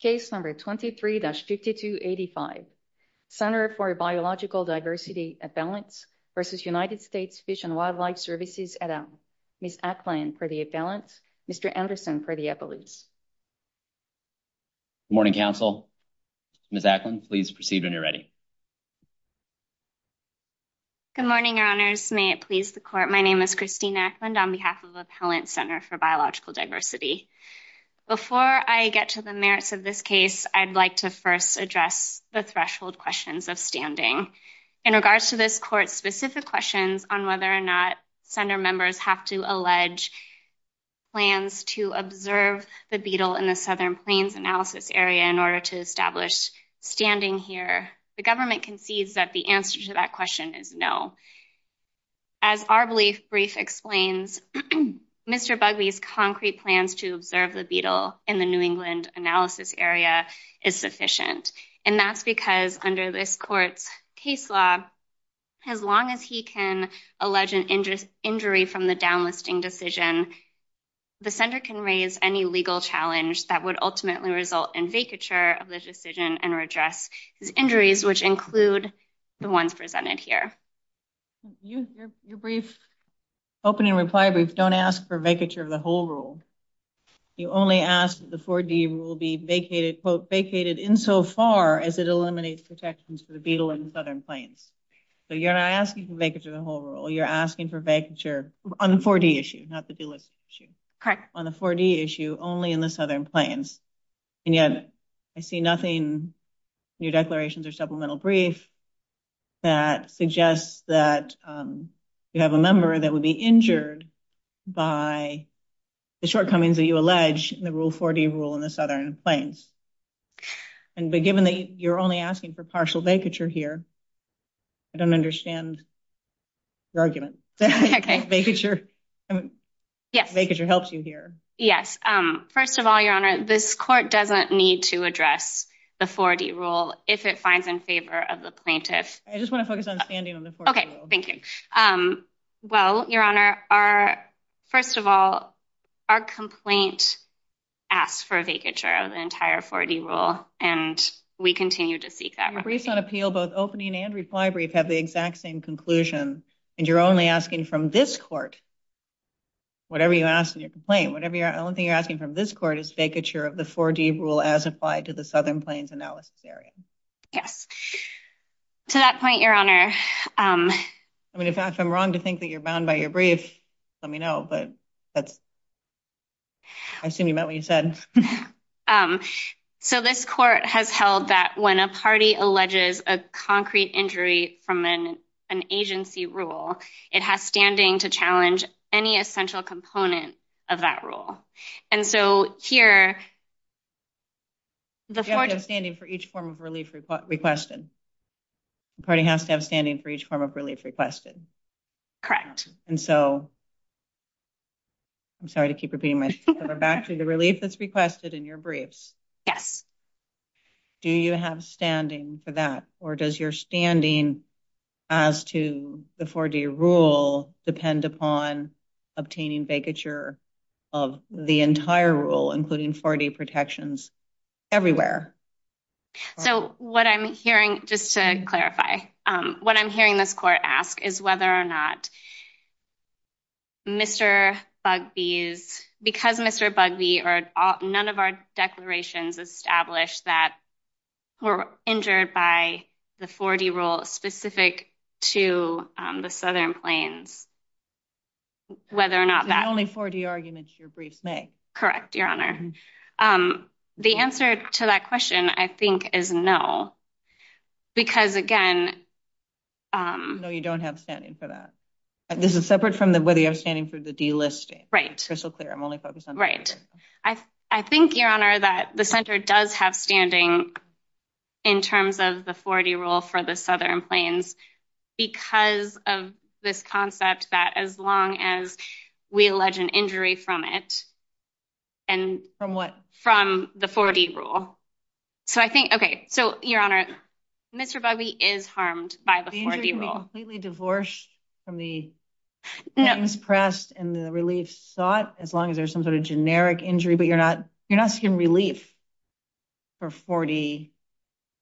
Case No. 23-5285, Center for Biological Diversity Appellants v. United States Fish and Wildlife Services, ADEM. Ms. Ackland for the appellants, Mr. Anderson for the appellates. Good morning, Council. Ms. Ackland, please proceed when you're ready. Good morning, Your Honors. May it please the Court, my name is Christine Ackland on behalf of the Appellant Center for Biological Diversity. Before I get to the merits of this case, I'd like to first address the threshold questions of standing. In regards to this Court's specific questions on whether or not Center members have to allege plans to observe the beetle in the Southern Plains Analysis Area in order to establish standing here, the government concedes that the answer to that question is no. As our brief explains, Mr. Bugley's concrete plans to observe the beetle in the New England Analysis Area is sufficient. And that's because under this Court's case law, as long as he can allege an injury from the downlifting decision, the Center can raise any legal challenge that would ultimately result in vacature of this decision and redress the injuries, which include the ones presented here. Your brief opening reply brief don't ask for vacature of the whole rule. You only ask that the 4-D rule be vacated, quote, vacated insofar as it eliminates protections for the beetle in the Southern Plains. So you're not asking for vacature of the whole rule. You're asking for vacature on the 4-D issue, not the deluxe issue. On the 4-D issue, only in the Southern Plains. And yet, I see nothing in your declarations or supplemental brief that suggests that you have a member that would be injured by the shortcomings that you allege in the Rule 4-D rule in the Southern Plains. And given that you're only asking for partial vacature here, I don't understand your argument. Vacature helps you here. Yes. First of all, Your Honor, this Court doesn't need to address the 4-D rule if it finds in favor of the plaintiff. I just want to focus on standing on the 4-D rule. Well, Your Honor, first of all, our complaint asks for vacature of the entire 4-D rule, and we continue to seek that. In the brief on appeal, both opening and reply brief have the exact same conclusion. And you're only asking from this Court, whatever you ask in your complaint, the only thing you're asking from this Court is vacature of the 4-D rule as applied to the Southern Plains and Alaska area. Yes. To that point, Your Honor. I mean, if I'm wrong to think that you're bound by your brief, let me know, but I assume you meant what you said. So this Court has held that when a party alleges a concrete injury from an agency rule, it has standing to challenge any essential component of that rule. You have to have standing for each form of relief requested. The party has to have standing for each form of relief requested. Correct. And so, I'm sorry to keep repeating myself, but back to the relief that's requested in your briefs. Yes. Do you have standing for that, or does your standing as to the 4-D rule depend upon obtaining vacature of the entire rule, including 4-D protections everywhere? So, what I'm hearing, just to clarify, what I'm hearing this Court ask is whether or not Mr. Bugbee, because Mr. Bugbee or none of our declarations establish that we're injured by the 4-D rule specific to the Southern Plains, whether or not that... The only 4-D argument in your brief, may. Correct, Your Honor. The answer to that question, I think, is no. Because, again... No, you don't have standing for that. This is separate from whether you have standing for the delisting. Right. I'm only focused on... Right. I think, Your Honor, that the Center does have standing in terms of the 4-D rule for the Southern Plains because of this concept that as long as we allege an injury from it... From what? From the 4-D rule. So, I think... Okay. So, Your Honor, Mr. Bugbee is harmed by the 4-D rule. You're completely divorced from the things pressed and the relief sought as long as there's some sort of generic injury, but you're not seeking relief for 4-D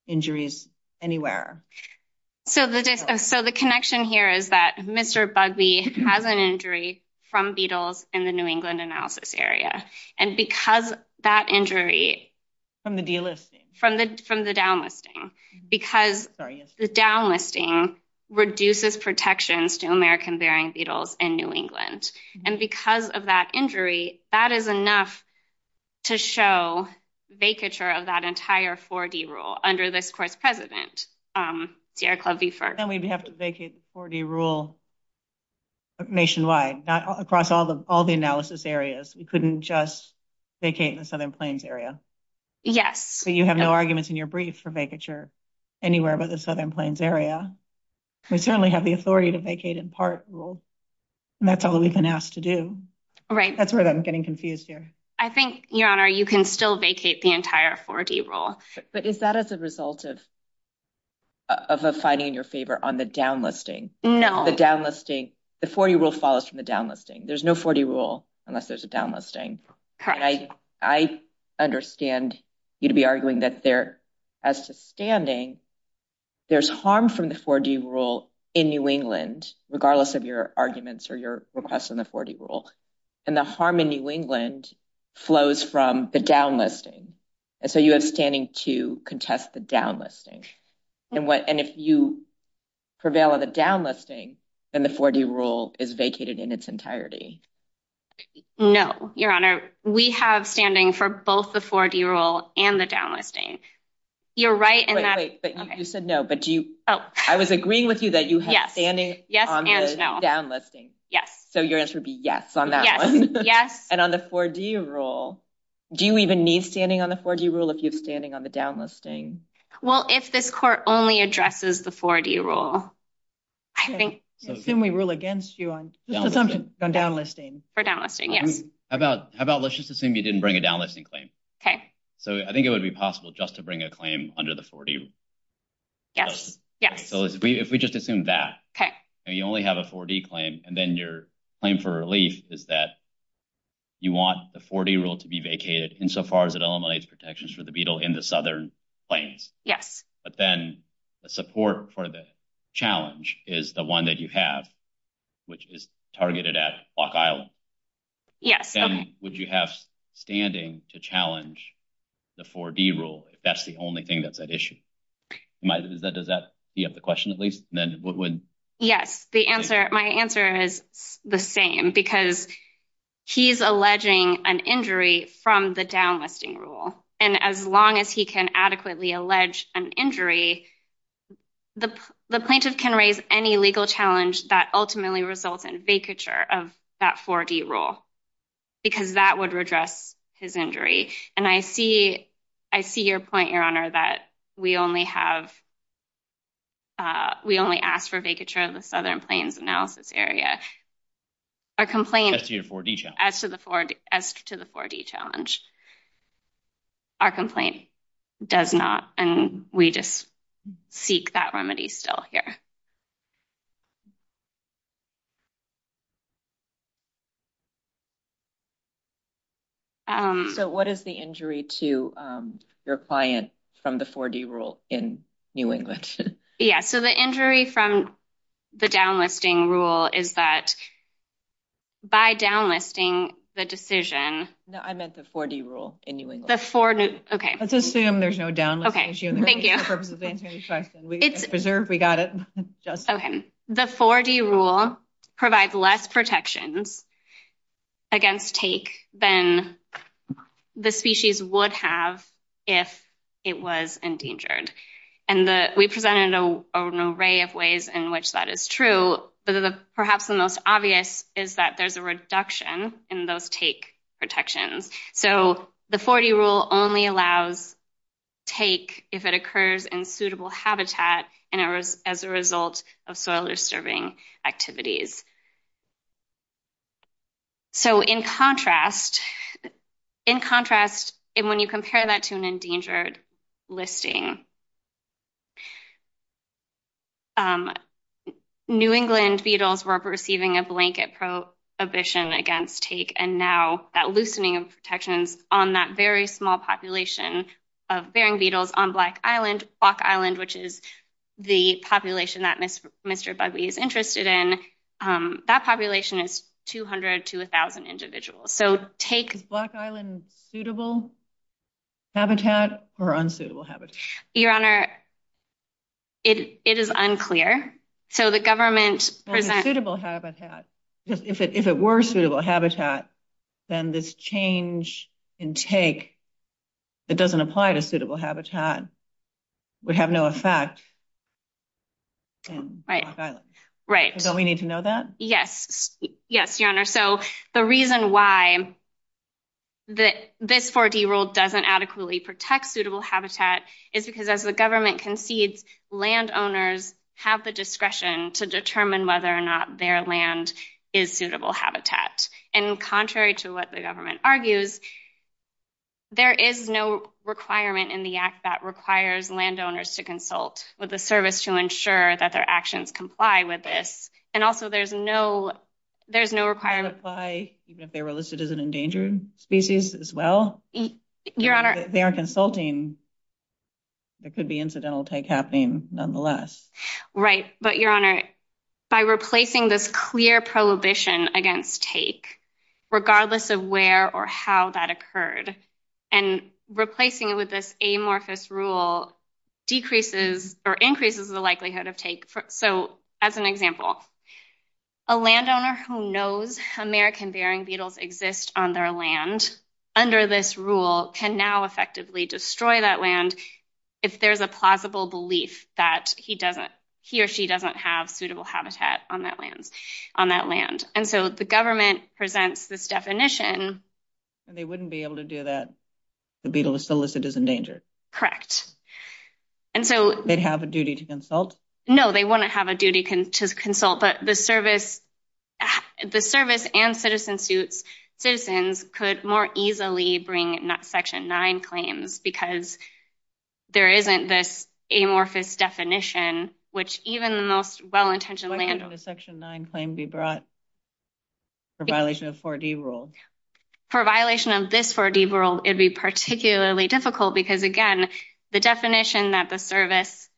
injuries anywhere. So, the connection here is that Mr. Bugbee has an injury from Beatles in the New England analysis area. And because that injury... From the delisting. From the downlisting. Because the downlisting reduces protections to American-bearing Beatles in New England. And because of that injury, that is enough to show vacature of that entire 4-D rule under this Court's President, D.R. Clubbee Ferguson. And we'd have to vacate the 4-D rule nationwide, across all the analysis areas. We couldn't just vacate in the Southern Plains area. Yes. So, you have no arguments in your brief for vacature anywhere but the Southern Plains area. We certainly have the authority to vacate in part rule. And that's all we've been asked to do. Right. That's where I'm getting confused here. I think, Your Honor, you can still vacate the entire 4-D rule. But is that as a result of a fighting in your favor on the downlisting? No. The downlisting... The 4-D rule follows from the downlisting. There's no 4-D rule unless there's a downlisting. Correct. And I understand you to be arguing that there, as to standing, there's harm from the 4-D rule in New England, regardless of your arguments or your requests on the 4-D rule. And the harm in New England flows from the downlisting. So, you have standing to contest the downlisting. And if you prevail on the downlisting, then the 4-D rule is vacated in its entirety. No, Your Honor. We have standing for both the 4-D rule and the downlisting. You're right in that... Wait, wait. You said no. But do you... Oh. I was agreeing with you that you have standing on the downlisting. Yes. So, your answer would be yes on that one. Yes. And on the 4-D rule, do you even need standing on the 4-D rule if you have standing on the downlisting? Well, if this court only addresses the 4-D rule, I think... Then we rule against you on downlisting. For downlisting, yes. How about let's just assume you didn't bring a downlisting claim. Okay. So, I think it would be possible just to bring a claim under the 4-D rule. Yes. So, if we just assume that. Okay. You only have a 4-D claim, and then your claim for relief is that you want the 4-D rule to be vacated insofar as it eliminates protections for the Beatle in the Southern claims. Yes. But then the support for the challenge is the one that you have, which is targeted at Block Island. Yes. And would you have standing to challenge the 4-D rule if that's the only thing that's at issue? Does that answer the question, at least? Yes. My answer is the same, because he's alleging an injury from the downlisting rule. And as long as he can adequately allege an injury, the plaintiff can raise any legal challenge that ultimately results in vacature of that 4-D rule, because that would redress his injury. And I see your point, Your Honor, that we only ask for vacature of the Southern claims analysis area. As to your 4-D challenge? As to the 4-D challenge. Our complaint does not, and we just seek that remedy still here. So what is the injury to your client from the 4-D rule in New England? Yes. So the injury from the downlisting rule is that by downlisting the decision— Let's assume there's no downlisting issue. Thank you. We got it. Okay. The 4-D rule provides less protections against take than the species would have if it was endangered. And we presented an array of ways in which that is true. Perhaps the most obvious is that there's a reduction in those take protections. So the 4-D rule only allows take if it occurs in suitable habitat and as a result of soil disturbing activities. So in contrast, when you compare that to an endangered listing, New England beetles were receiving a blanket prohibition against take, and now that loosening of protections on that very small population of Bering beetles on Black Island, Black Island, which is the population that Mr. Bugbee is interested in, that population is 200 to 1,000 individuals. So take— Is Black Island suitable habitat or unsuitable habitat? Your Honor, it is unclear. So the government— If it were suitable habitat, then this change in take that doesn't apply to suitable habitat would have no effect on Black Island. Right. Don't we need to know that? Yes. Yes, Your Honor. So the reason why this 4-D rule doesn't adequately protect suitable habitat is because as the government concedes, landowners have the discretion to determine whether or not their land is suitable habitat. And contrary to what the government argues, there is no requirement in the act that requires landowners to consult with the service to ensure that their actions comply with this. And also, there's no requirement— Even if they're listed as an endangered species as well? Your Honor— If they are consulting, there could be incidental take happening nonetheless. Right. But, Your Honor, by replacing this clear prohibition against take, regardless of where or how that occurred, and replacing it with this amorphous rule decreases or increases the likelihood of take. So, as an example, a landowner who knows American Bering beetles exist on their land under this rule can now effectively destroy that land if there's a plausible belief that he or she doesn't have suitable habitat on that land. And so the government presents this definition— And they wouldn't be able to do that. The beetle is still listed as endangered. Correct. And so— They'd have a duty to consult? No, they wouldn't have a duty to consult. But the service and citizens could more easily bring Section 9 claims because there isn't this amorphous definition, which even the most well-intentioned landowners— Why can't a Section 9 claim be brought for violation of 4D rules? For violation of this 4D rule, it'd be particularly difficult because, again, the definition that the service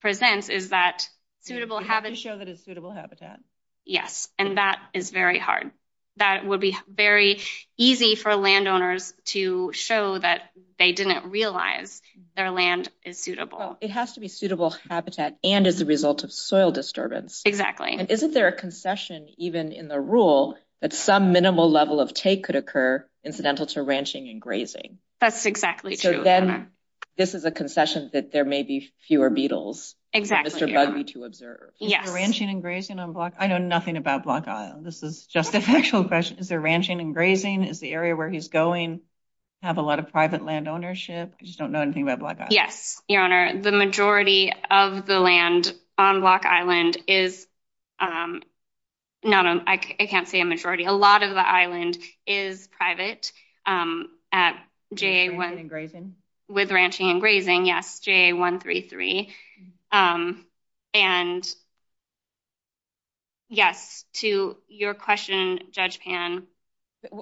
presents is that suitable habitat— You have to show that it's suitable habitat. Yes, and that is very hard. That would be very easy for landowners to show that they didn't realize their land is suitable. Well, it has to be suitable habitat and as a result of soil disturbance. Exactly. And isn't there a concession even in the rule that some minimal level of take could occur incidental to ranching and grazing? That's exactly true. So then this is a concession that there may be fewer beetles for Mr. Busby to observe. Ranching and grazing on Block—I know nothing about Block Island. This is just a factual question. Is there ranching and grazing? Is the area where he's going have a lot of private land ownership? I just don't know anything about Block Island. Yes, Your Honor. The majority of the land on Block Island is—I can't say a majority. A lot of the island is private with ranching and grazing, yes, JA133. And yes, to your question, Judge Pan.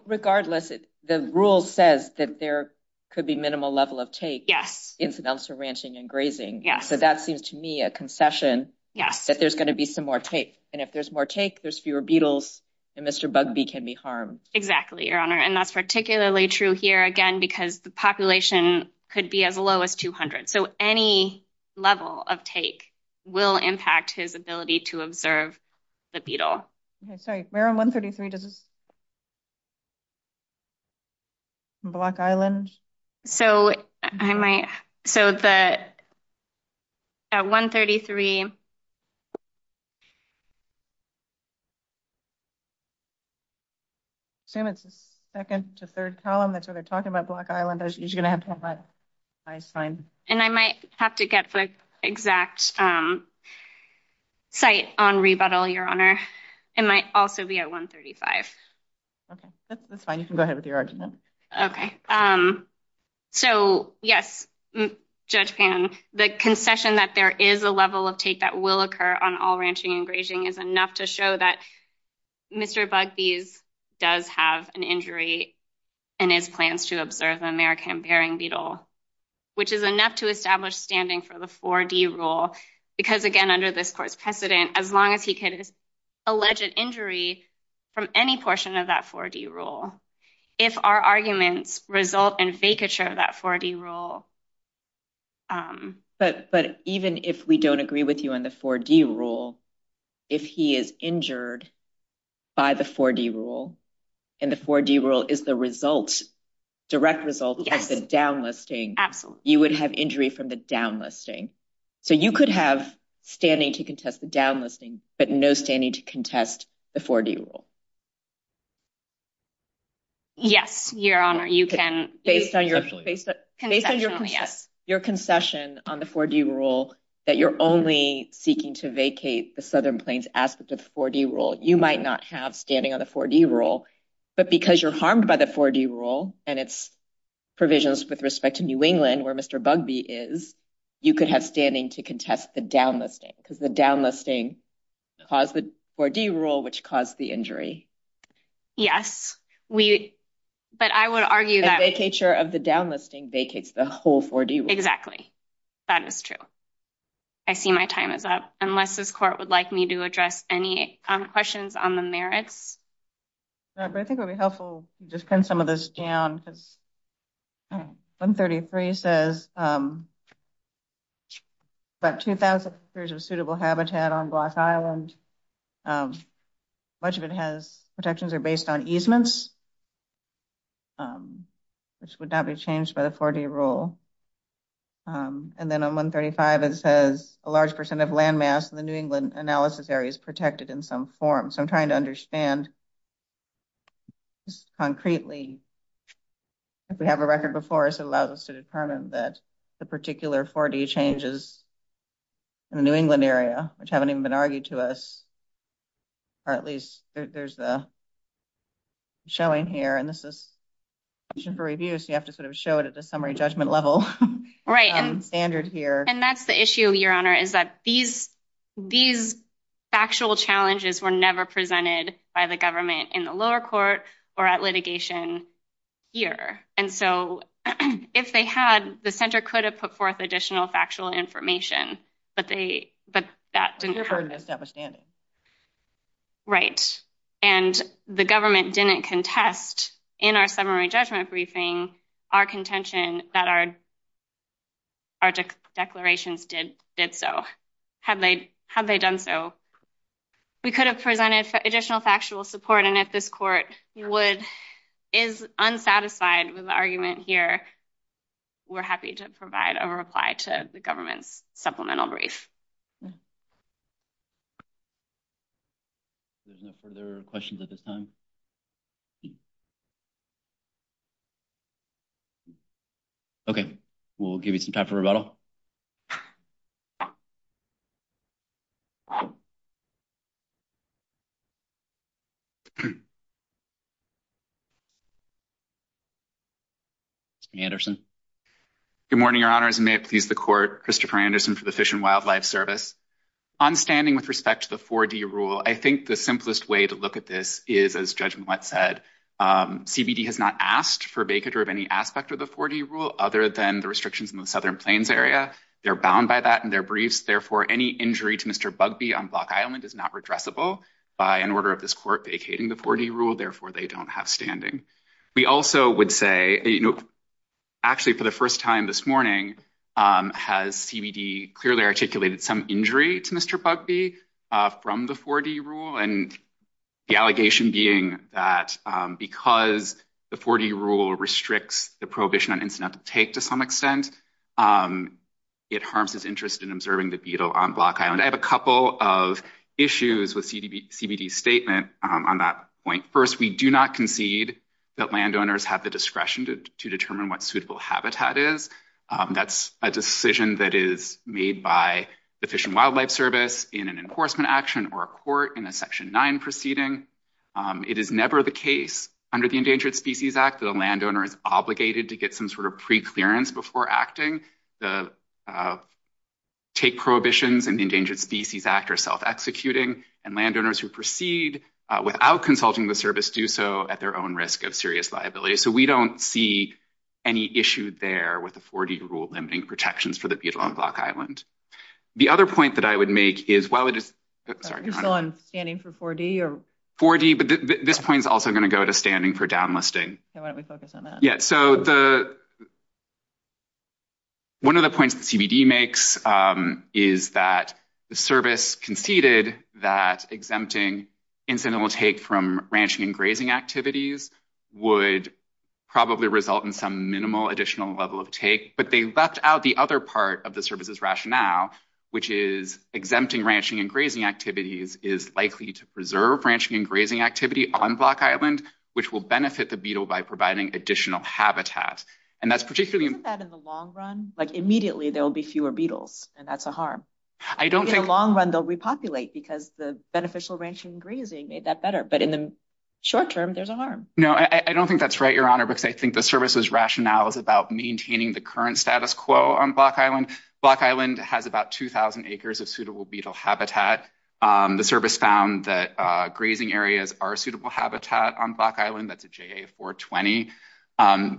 Regardless, the rule says that there could be minimal level of take incidental to ranching and grazing. So that seems to me a concession that there's going to be some more take. And if there's more take, there's fewer beetles and Mr. Busby can be harmed. Exactly, Your Honor. And that's particularly true here, again, because the population could be as low as 200. So any level of take will impact his ability to observe the beetle. Sorry, where on 133 does—Block Island? So I might—so the—at 133. I assume it's the second to third column. That's what they're talking about, Block Island. You're going to have to apply a fine. And I might have to get the exact site on Rebuttal, Your Honor. It might also be at 135. Okay. That's fine. You can go ahead with your argument. Okay. So, yes, Judge Pan, the concession that there is a level of take that will occur on all ranching and grazing is enough to show that Mr. Busby does have an injury and his plans to observe an American Bering beetle, which is enough to establish standing for the 4D rule. Because, again, under this court's precedent, as long as he could allege an injury from any portion of that 4D rule, if our arguments result in vacature of that 4D rule— But even if we don't agree with you on the 4D rule, if he is injured by the 4D rule, and the 4D rule is the result, direct result of the downlisting— Absolutely. You would have injury from the downlisting. So you could have standing to contest the downlisting, but no standing to contest the 4D rule. Yes, Your Honor. You can— Based on your concession on the 4D rule that you're only seeking to vacate the Southern Plains aspect of the 4D rule, you might not have standing on the 4D rule. But because you're harmed by the 4D rule and its provisions with respect to New England, where Mr. Bugbee is, you could have standing to contest the downlisting, because the downlisting caused the 4D rule, which caused the injury. Yes. We— But I would argue that— Vacature of the downlisting vacates the whole 4D rule. Exactly. That is true. I see my time is up. Unless this court would like me to address any questions on the merits? I think it would be helpful to just pin some of this down. 133 says about 2,000 acres of suitable habitat on Block Island. Much of it has protections that are based on easements. This would not be changed by the 4D rule. And then on 135, it says a large percent of landmass in the New England analysis area is protected in some form. So I'm trying to understand concretely. If we have a record before us, it allows us to determine that the particular 4D changes in the New England area, which haven't even been argued to us, or at least there's a showing here. And this is a question for review, so you have to sort of show it at the summary judgment level. Right. Standard here. And that's the issue, Your Honor, is that these factual challenges were never presented by the government in the lower court or at litigation here. And so if they had, the Center could have put forth additional factual information. But they— Didn't occur in this devastating. Right. And the government didn't contest in our summary judgment briefing our contention that our declarations did so. Had they done so, we could have presented additional factual support. And if this court is unsatisfied with the argument here, we're happy to provide a reply to the government's supplemental brief. There's no further questions at this time. Okay. We'll give you some time for rebuttal. Anderson. Good morning, Your Honors. May it please the court, Christopher Anderson for the Fish and Wildlife Service. On standing with respect to the 4D rule, I think the simplest way to look at this is, as Judge Mouet said, CBD has not asked for vacatur of any aspect of the 4D rule other than the restrictions in the Southern Plains area. They're bound by that in their briefs. Therefore, any injury to Mr. Bugbee on Block Island is not redressable by an order of this court vacating the 4D rule. Therefore, they don't have standing. We also would say, you know, actually, for the first time this morning, has CBD clearly articulated some injury to Mr. Bugbee from the 4D rule? And the allegation being that because the 4D rule restricts the prohibition on instant uptake to some extent, it harms his interest in observing the beetle on Block Island. I have a couple of issues with CBD's statement on that point. First, we do not concede that landowners have the discretion to determine what suitable habitat is. That's a decision that is made by the Fish and Wildlife Service in an enforcement action or a court in a Section 9 proceeding. It is never the case under the Endangered Species Act that a landowner is obligated to get some sort of preclearance before acting. The Take Prohibitions and Endangered Species Act are self-executing, and landowners who proceed without consulting the service do so at their own risk of serious liability. So, we don't see any issue there with the 4D rule limiting protections for the beetle on Block Island. The other point that I would make is while it is— Is it on standing for 4D? 4D, but this point is also going to go to standing for downlisting. So, why don't we focus on that? Yeah, so one of the points that CBD makes is that the service conceded that exempting incidental take from ranching and grazing activities would probably result in some minimal additional level of take, but they left out the other part of the service's rationale, which is exempting ranching and grazing activities is likely to preserve ranching and grazing activity on Block Island, which will benefit the beetle by providing additional habitat. And that's particularly— Isn't that in the long run? Like, immediately, there will be fewer beetles, and that's a harm. I don't think— In the long run, they'll repopulate because the beneficial ranching and grazing made that better, but in the short term, there's a harm. No, I don't think that's right, Your Honor, because I think the service's rationale is about maintaining the current status quo on Block Island. Block Island has about 2,000 acres of suitable beetle habitat. The service found that grazing areas are a suitable habitat on Block Island. That's a JA-420.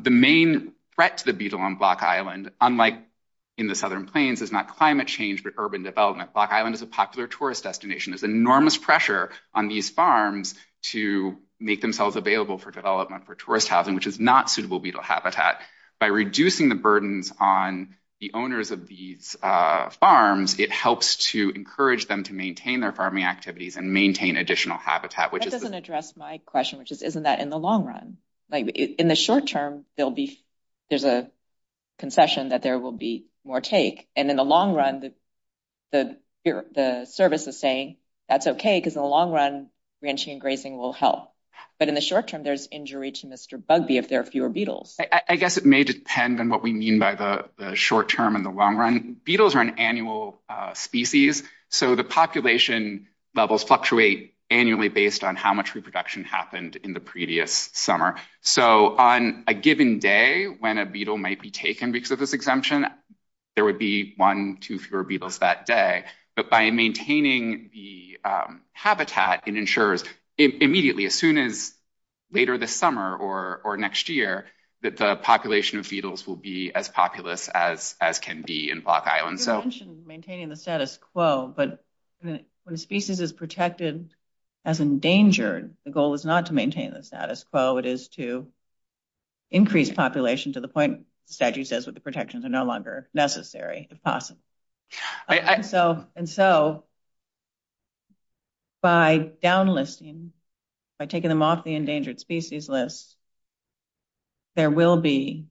The main threat to the beetle on Block Island, unlike in the Southern Plains, is not climate change but urban development. Block Island is a popular tourist destination. There's enormous pressure on these farms to make themselves available for development for tourist housing, which is not suitable beetle habitat. By reducing the burdens on the owners of these farms, it helps to encourage them to maintain their farming activities and maintain additional habitat, which is— That doesn't address my question, which is, isn't that in the long run? In the short term, there's a concession that there will be more take. In the long run, the service is saying, that's okay, because in the long run, ranching and grazing will help. But in the short term, there's injury to Mr. Bugbee if there are fewer beetles. I guess it may depend on what we mean by the short term and the long run. Beetles are an annual species, so the population levels fluctuate annually based on how much reproduction happened in the previous summer. On a given day, when a beetle might be taken because of this exemption, there would be one, two fewer beetles that day. But by maintaining the habitat, it ensures immediately, as soon as later this summer or next year, that the population of beetles will be as populous as can be in Block Island. You mentioned maintaining the status quo, but when a species is protected as endangered, the goal is not to maintain the status quo. It is to increase population to the point that you said the protections are no longer necessary, if possible. And so, by downlisting, by taking them off the endangered species list, there will be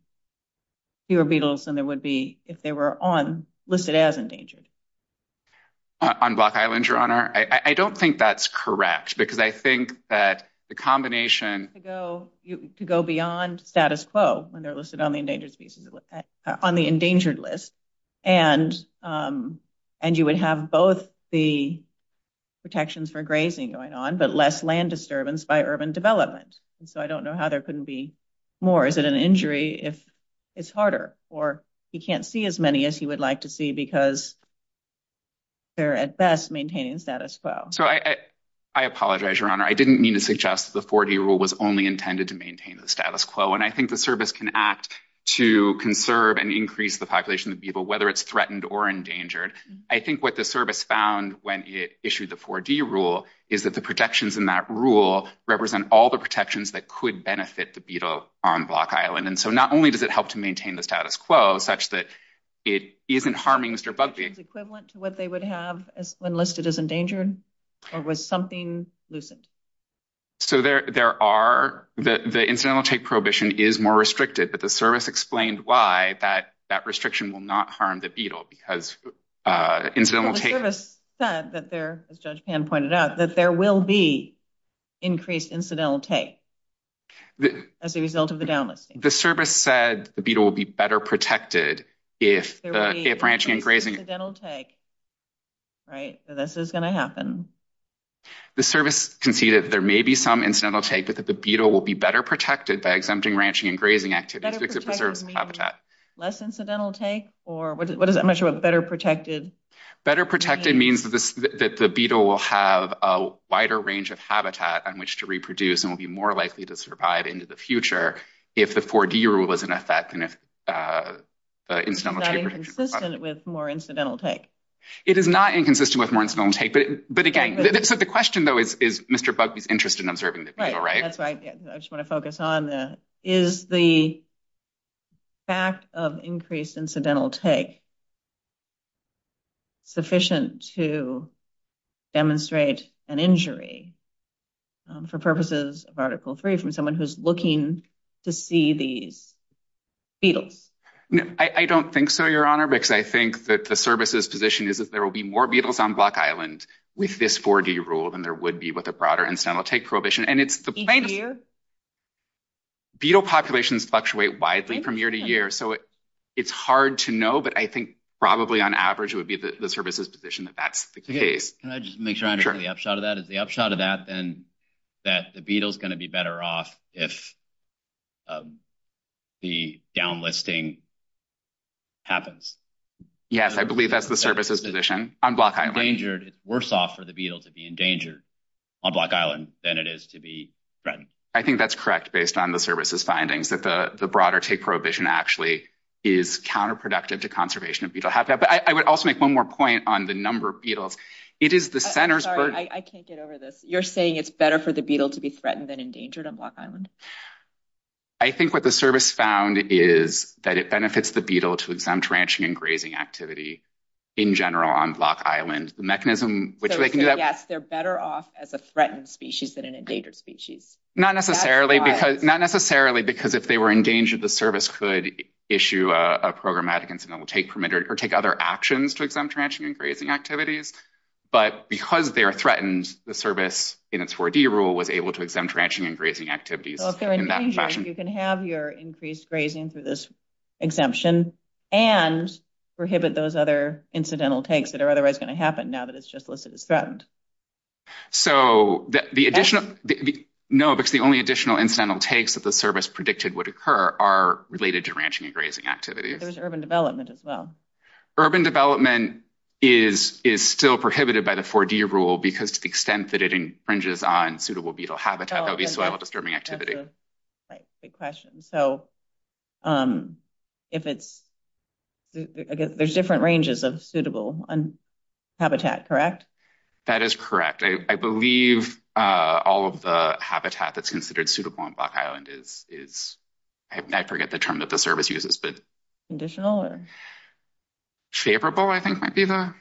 fewer beetles than there would be if they were listed as endangered. On Block Island, Your Honor? I don't think that's correct, because I think that the combination... To go beyond status quo, when they're listed on the endangered list. And you would have both the protections for grazing going on, but less land disturbance by urban development. So, I don't know how there couldn't be more. Is it an injury if it's harder, or you can't see as many as you would like to see because they're at best maintaining status quo? So, I apologize, Your Honor. I didn't mean to suggest the 4D rule was only intended to maintain the status quo. And I think the service can act to conserve and increase the population of beetle, whether it's threatened or endangered. I think what the service found when it issued the 4D rule is that the protections in that rule represent all the protections that could benefit the beetle on Block Island. And so, not only does it help to maintain the status quo, such that it isn't harming Mr. Bugbee... Is it equivalent to what they would have when listed as endangered? Or was something loosened? So, there are... The incidental take prohibition is more restricted, but the service explained why that restriction will not harm the beetle because incidental take... The service said that there, as Judge Pan pointed out, that there will be increased incidental take as a result of the down listing. The service said the beetle will be better protected if the safe ranching and grazing... There will be incidental take, right? So, this is going to happen. The service conceded there may be some incidental take, but that the beetle will be better protected by exempting ranching and grazing activities... Better protected means less incidental take? Or what is that? I'm not sure what better protected... Better protected means that the beetle will have a wider range of habitat on which to reproduce and will be more likely to survive into the future if the 4D rule was in effect and if incidental take... Is that inconsistent with more incidental take? It is not inconsistent with more incidental take, but again... So, the question, though, is Mr. Buck is interested in observing the beetle, right? That's right. I just want to focus on the... Is the fact of increased incidental take sufficient to demonstrate an injury for purposes of Article 3 from someone who's looking to see these beetles? I don't think so, Your Honor, because I think that the service's position is that there will be more beetles on Buck Island with this 4D rule than there would be with a broader incidental take prohibition. And it's... Thank you. Beetle populations fluctuate widely from year to year, so it's hard to know, but I think probably on average would be the service's position that that's the case. Can I just make sure I'm getting the upshot of that? Is the upshot of that then that the beetle's going to be better off if the downlisting happens? Yes, I believe that's the service's position on Buck Island. Endangered, it's worse off for the beetle to be endangered on Buck Island than it is to be threatened. I think that's correct based on the service's findings that the broader take prohibition actually is counterproductive to conservation of beetle habitat. But I would also make one more point on the number of beetles. It is the center's... Sorry, I can't get over this. You're saying it's better for the beetle to be threatened than endangered on Buck Island? I think what the service found is that it benefits the beetle to exempt ranching and grazing activity in general on Buck Island. The mechanism... So, yes, they're better off as a threatened species than an endangered species. Not necessarily because if they were endangered, the service could issue a programmatic incidental take permit or take other actions to exempt ranching and grazing activities. But because they're threatened, the service in its 4D rule was able to exempt ranching and grazing activities in that fashion. So if they're endangered, you can have your increased grazing through this exemption and prohibit those other incidental takes that are otherwise going to happen now that it's just listed as threatened. So the additional... No, because the only additional incidental takes that the service predicted would occur are related to ranching and grazing activities. There's urban development as well. Urban development is still prohibited by the 4D rule because of the extent that it infringes on suitable beetle habitat. That would be soil disturbing activity. Great question. So if it's... There's different ranges of suitable habitat, correct? That is correct. I believe all of the habitat that's considered suitable on Buck Island is... I forget the term that the service uses, but... Conditional or... Favorable, I think, might be the...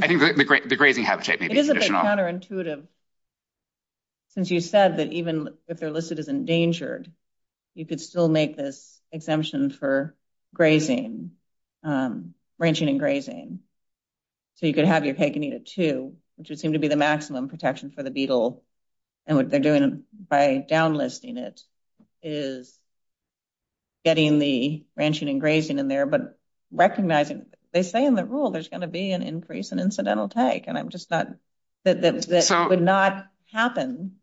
I think the grazing habitat may be conditional. It is a bit counterintuitive since you said that even if they're listed as endangered, you could still make this exemption for grazing, ranching and grazing. So you could have your cake and eat it too, which would seem to be the maximum protection for the beetle. And what they're doing by downlisting it is getting the ranching and grazing in there. But they say in the rule there's going to be an increase in incidental take, and I'm just not... That would not happen,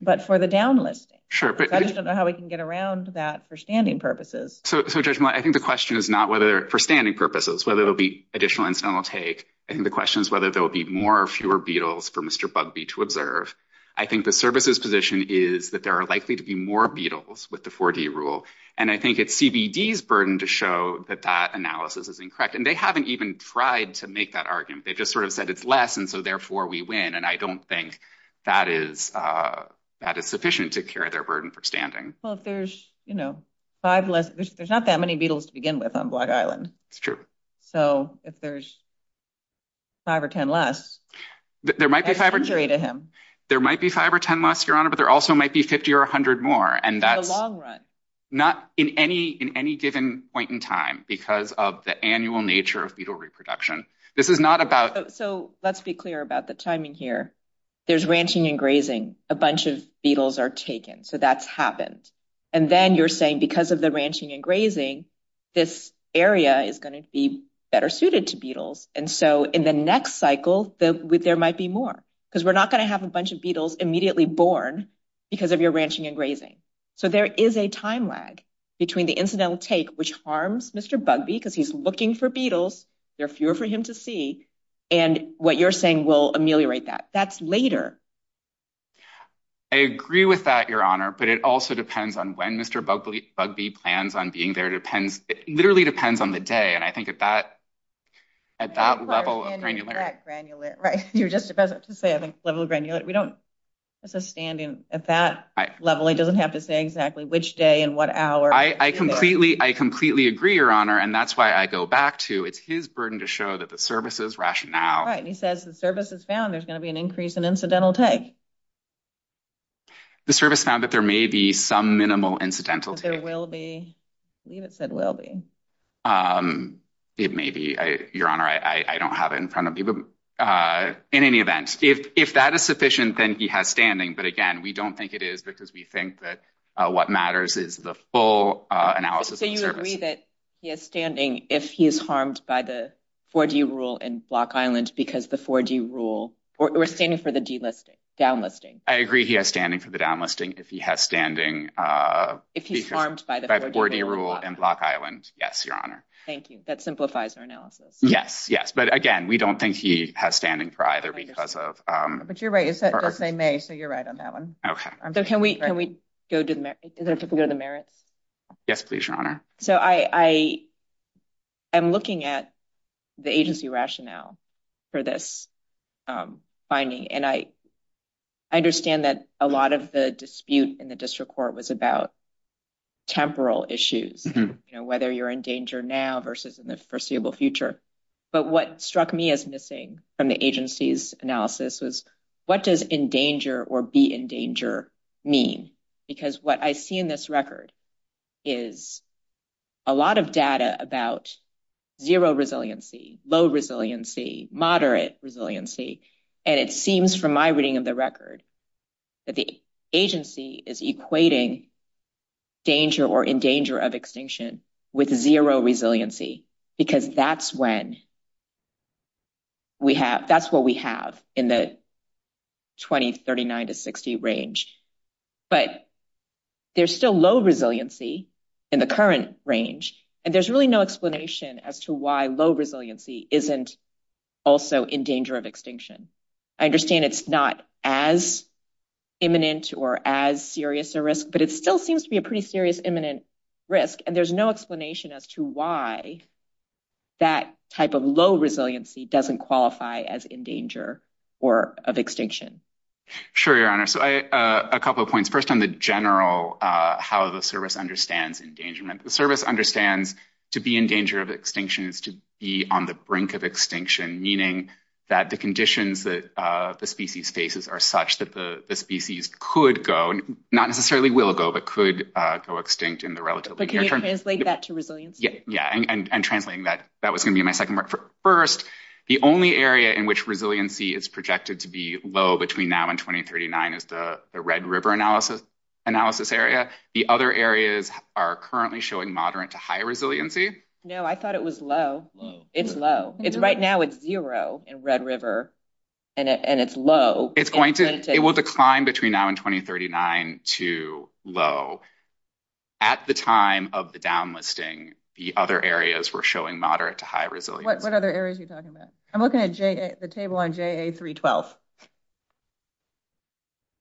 but for the downlist. I just don't know how we can get around that for standing purposes. So Judge Ma, I think the question is not whether for standing purposes, whether there'll be additional incidental take. I think the question is whether there'll be more or fewer beetles for Mr. Bugbee to observe. I think the service's position is that there are likely to be more beetles with the 4D rule. And I think it's CBD's burden to show that that analysis is incorrect. And they haven't even tried to make that argument. They just sort of said it's less and so therefore we win. And I don't think that it's sufficient to carry their burden for standing. Well, if there's five less... There's not that many beetles to begin with on Black Island. It's true. So if there's five or ten less... There might be five or ten less, Your Honor, but there also might be 50 or 100 more. In the long run. Not in any given point in time because of the annual nature of beetle reproduction. This is not about... So let's be clear about the timing here. There's ranching and grazing. A bunch of beetles are taken. So that's happened. And then you're saying because of the ranching and grazing, this area is going to be better suited to beetles. And so in the next cycle, there might be more. Because we're not going to have a bunch of beetles immediately born because of your ranching and grazing. So there is a time lag between the incidental take, which harms Mr. Bugbee because he's looking for beetles. There are fewer for him to see. And what you're saying will ameliorate that. That's later. I agree with that, Your Honor. But it also depends on when Mr. Bugbee plans on being there. It literally depends on the day. And I think at that level of granularity... At that granularity. Right. You're just about to say at that level of granularity. We don't... That's a standing. At that level, it doesn't have to say exactly which day and what hour. I completely agree, Your Honor. And that's why I go back to... It is burdened to show that the service's rationale... Right. He says the service has found there's going to be an increase in incidental take. The service found that there may be some minimal incidental take. There will be. It said will be. It may be. Your Honor, I don't have it in front of me. In any event, if that is sufficient, then he has standing. But, again, we don't think it is because we think that what matters is the full analysis. So you agree that he has standing if he is harmed by the 4G rule in Block Island because the 4G rule... Or standing for the D-listing. Downlisting. I agree he has standing for the downlisting if he has standing... If he's harmed by the 4G rule in Block Island. By the 4G rule in Block Island. Yes, Your Honor. Thank you. That simplifies our analysis. Yes. Yes. But, again, we don't think he has standing for either because of... But you're right. It does say may, so you're right on that one. Okay. Can we go to the merits? Yes, please, Your Honor. So I am looking at the agency rationale for this finding. And I understand that a lot of the dispute in the district court was about temporal issues, you know, whether you're in danger now versus in the foreseeable future. But what struck me as missing from the agency's analysis was what does in danger or be in danger mean? Because what I see in this record is a lot of data about zero resiliency, low resiliency, moderate resiliency. And it seems from my reading of the record that the agency is equating danger or in danger of extinction with zero resiliency because that's when we have... But there's still low resiliency in the current range, and there's really no explanation as to why low resiliency isn't also in danger of extinction. I understand it's not as imminent or as serious a risk, but it still seems to be a pretty serious imminent risk, and there's no explanation as to why that type of low resiliency doesn't qualify as in danger or of extinction. Sure, Your Honor. So a couple of points. First on the general how the service understands endangerment. The service understands to be in danger of extinction is to be on the brink of extinction, meaning that the conditions that the species faces are such that the species could go, not necessarily will go, but could go extinct in the relatively near term. But can you translate that to resiliency? Yeah. And translating that, that was going to be my second part. The only area in which resiliency is projected to be low between now and 2039 is the Red River analysis area. The other areas are currently showing moderate to high resiliency. No, I thought it was low. It's low. Right now it's zero in Red River, and it's low. It will decline between now and 2039 to low. At the time of the downlisting, the other areas were showing moderate to high resiliency. What other areas are you talking about? I'm looking at the table on JA312,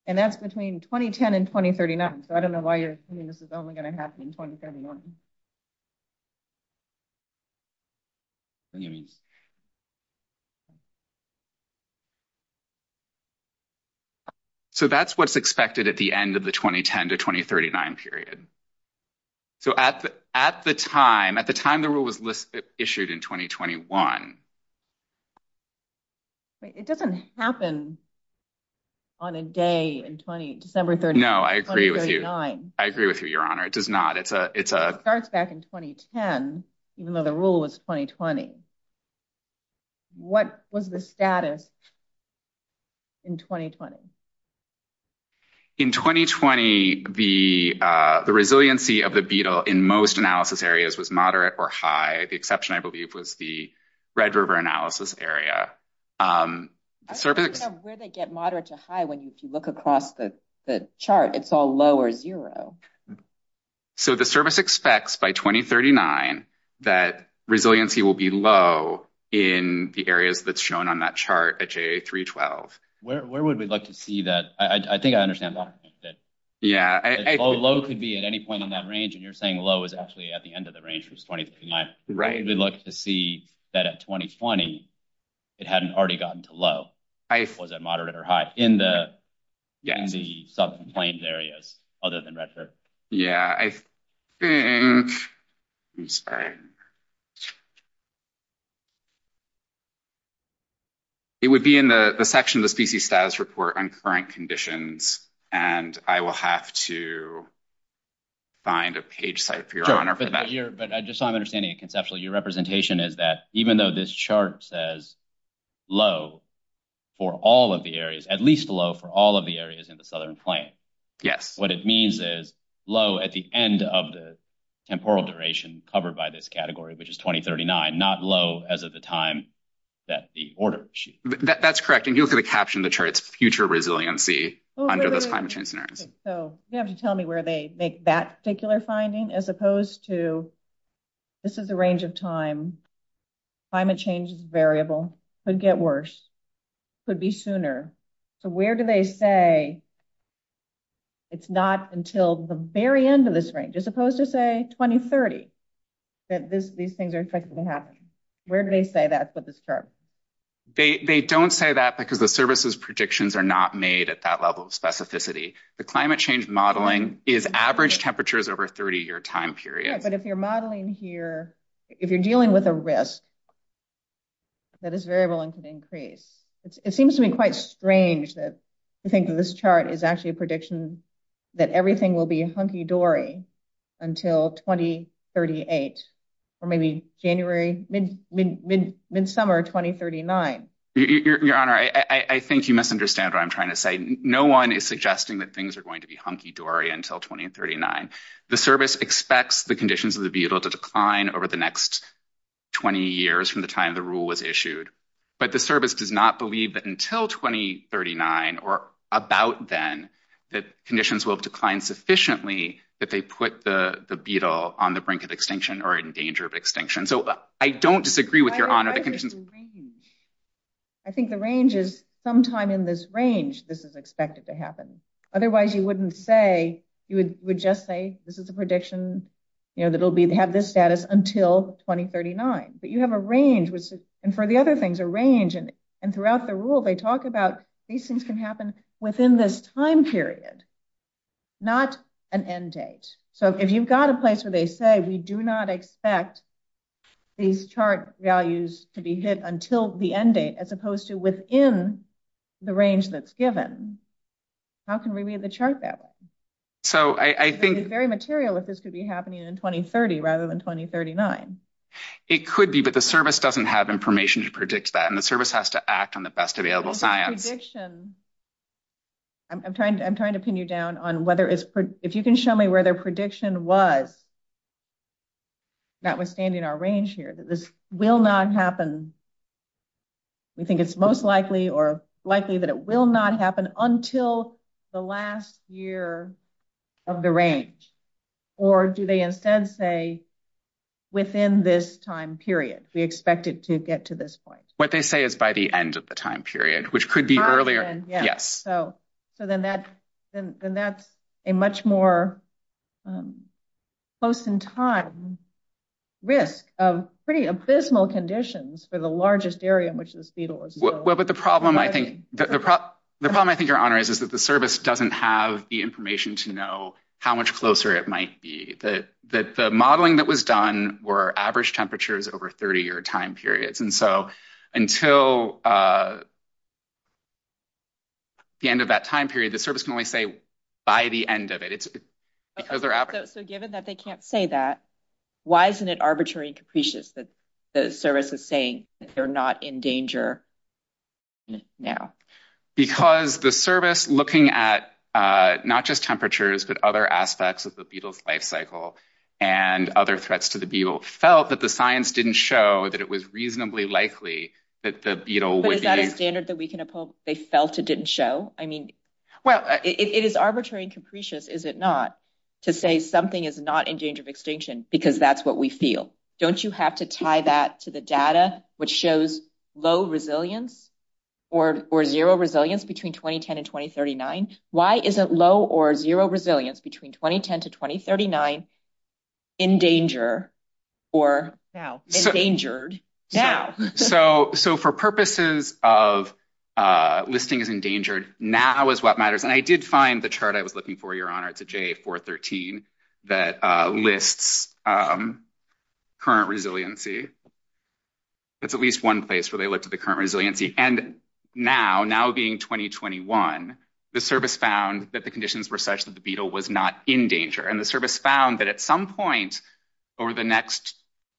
and that's between 2010 and 2039. So I don't know why you're saying this is only going to happen in 2039. So that's what's expected at the end of the 2010 to 2039 period. So at the time, at the time the rule was issued in 2021. It doesn't happen on a day in December 30, 2039. No, I agree with you. I agree with you, Your Honor. It does not. It starts back in 2010, even though the rule was 2020. What was the status in 2020? In 2020, the resiliency of the beetle in most analysis areas was moderate or high. The exception, I believe, was the Red River analysis area. I don't really get moderate to high when you look across the chart. It's all low or zero. So the service expects by 2039 that resiliency will be low in the areas that's shown on that chart at JA312. Where would we like to see that? I think I understand that. Yeah. Low could be at any point in that range. And you're saying low is actually at the end of the range, which is 2039. Right. We'd like to see that at 2020, it hadn't already gotten to low. Was it moderate or high in the sub-complaint areas other than Red River? Yeah, I think. I'm sorry. It would be in the section of the species status report on current conditions. And I will have to find a page site for Your Honor for that. But just so I'm understanding it conceptually, your representation is that even though this chart says low for all of the areas, at least low for all of the areas in the southern plain. Yes. What it means is low at the end of the temporal duration covered by this category, which is 2039, not low as of the time that the order was issued. That's correct. And you're going to caption the chart's future resiliency under the time change scenario. So you have to tell me where they make that particular finding as opposed to this is the range of time. Climate change is variable. Could get worse. Could be sooner. So where do they say it's not until the very end of this range, as opposed to, say, 2030 that these things are expected to happen? Where do they say that for this chart? They don't say that because the services predictions are not made at that level of specificity. The climate change modeling is average temperatures over a 30-year time period. But if you're modeling here, if you're dealing with a risk, that is variable and could increase. It seems to me quite strange that you think that this chart is actually a prediction that everything will be a hunky-dory until 2038 or maybe January, mid-summer 2039. Your Honor, I think you misunderstand what I'm trying to say. No one is suggesting that things are going to be hunky-dory until 2039. The service expects the conditions of the beetle to decline over the next 20 years from the time the rule was issued. But the service does not believe that until 2039 or about then that conditions will decline sufficiently that they put the beetle on the brink of extinction or in danger of extinction. So I don't disagree with your Honor. I think the range is sometime in this range this is expected to happen. Otherwise, you would just say this is a prediction that it will have this status until 2039. But you have a range. And for the other things, a range. And throughout the rule, they talk about these things can happen within this time period, not an end date. So if you've got a place where they say we do not expect these chart values to be hit until the end date as opposed to within the range that's given, how can we read the chart that way? So I think... It would be very material if this could be happening in 2030 rather than 2039. It could be, but the service doesn't have information to predict that. And the service has to act on the best available science. I'm trying to pin you down on whether... If you can show me where their prediction was, notwithstanding our range here, that this will not happen. We think it's most likely or likely that it will not happen until the last year of the range. Or do they instead say within this time period, we expect it to get to this point? What they say is by the end of the time period, which could be earlier. So then that's a much more close in time risk of pretty abysmal conditions for the largest area, which is fetal as well. But the problem, I think, Your Honor, is that the service doesn't have the information to know how much closer it might be. The modeling that was done were average temperatures over 30-year time periods. And so until the end of that time period, the service can only say by the end of it. So given that they can't say that, why isn't it arbitrary and capricious that the service is saying they're not in danger now? Because the service, looking at not just temperatures, but other aspects of the beetle's life cycle and other threats to the beetle, felt that the science didn't show that it was reasonably likely that the beetle would be... But is that a standard that we can uphold, they felt it didn't show? I mean, well, it is arbitrary and capricious, is it not, to say something is not in danger of extinction because that's what we feel. Don't you have to tie that to the data which shows low resilience or zero resilience between 2010 and 2039? Why isn't low or zero resilience between 2010 to 2039 in danger or endangered now? So for purposes of listing as endangered, now is what matters. And I did find the chart I was looking for, Your Honor, it's a J413 that lists current resiliency. It's at least one place where they looked at the current resiliency. And now, now being 2021, the service found that the conditions were such that the beetle was not in danger. And the service found that at some point over the next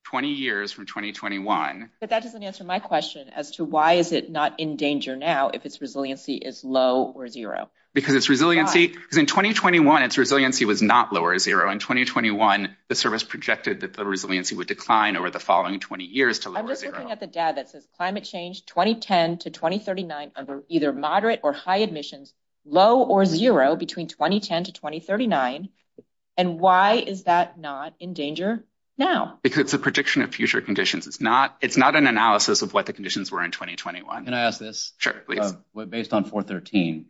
20 years from 2021... But that doesn't answer my question as to why is it not in danger now if its resiliency is low or zero? Because its resiliency, in 2021, its resiliency was not low or zero. In 2021, the service projected that the resiliency would decline over the following 20 years to low or zero. I'm just looking at the data that says climate change 2010 to 2039 under either moderate or high emissions, low or zero between 2010 to 2039. And why is that not in danger now? Because it's a prediction of future conditions. It's not an analysis of what the conditions were in 2021. Can I ask this? Sure. Based on 413,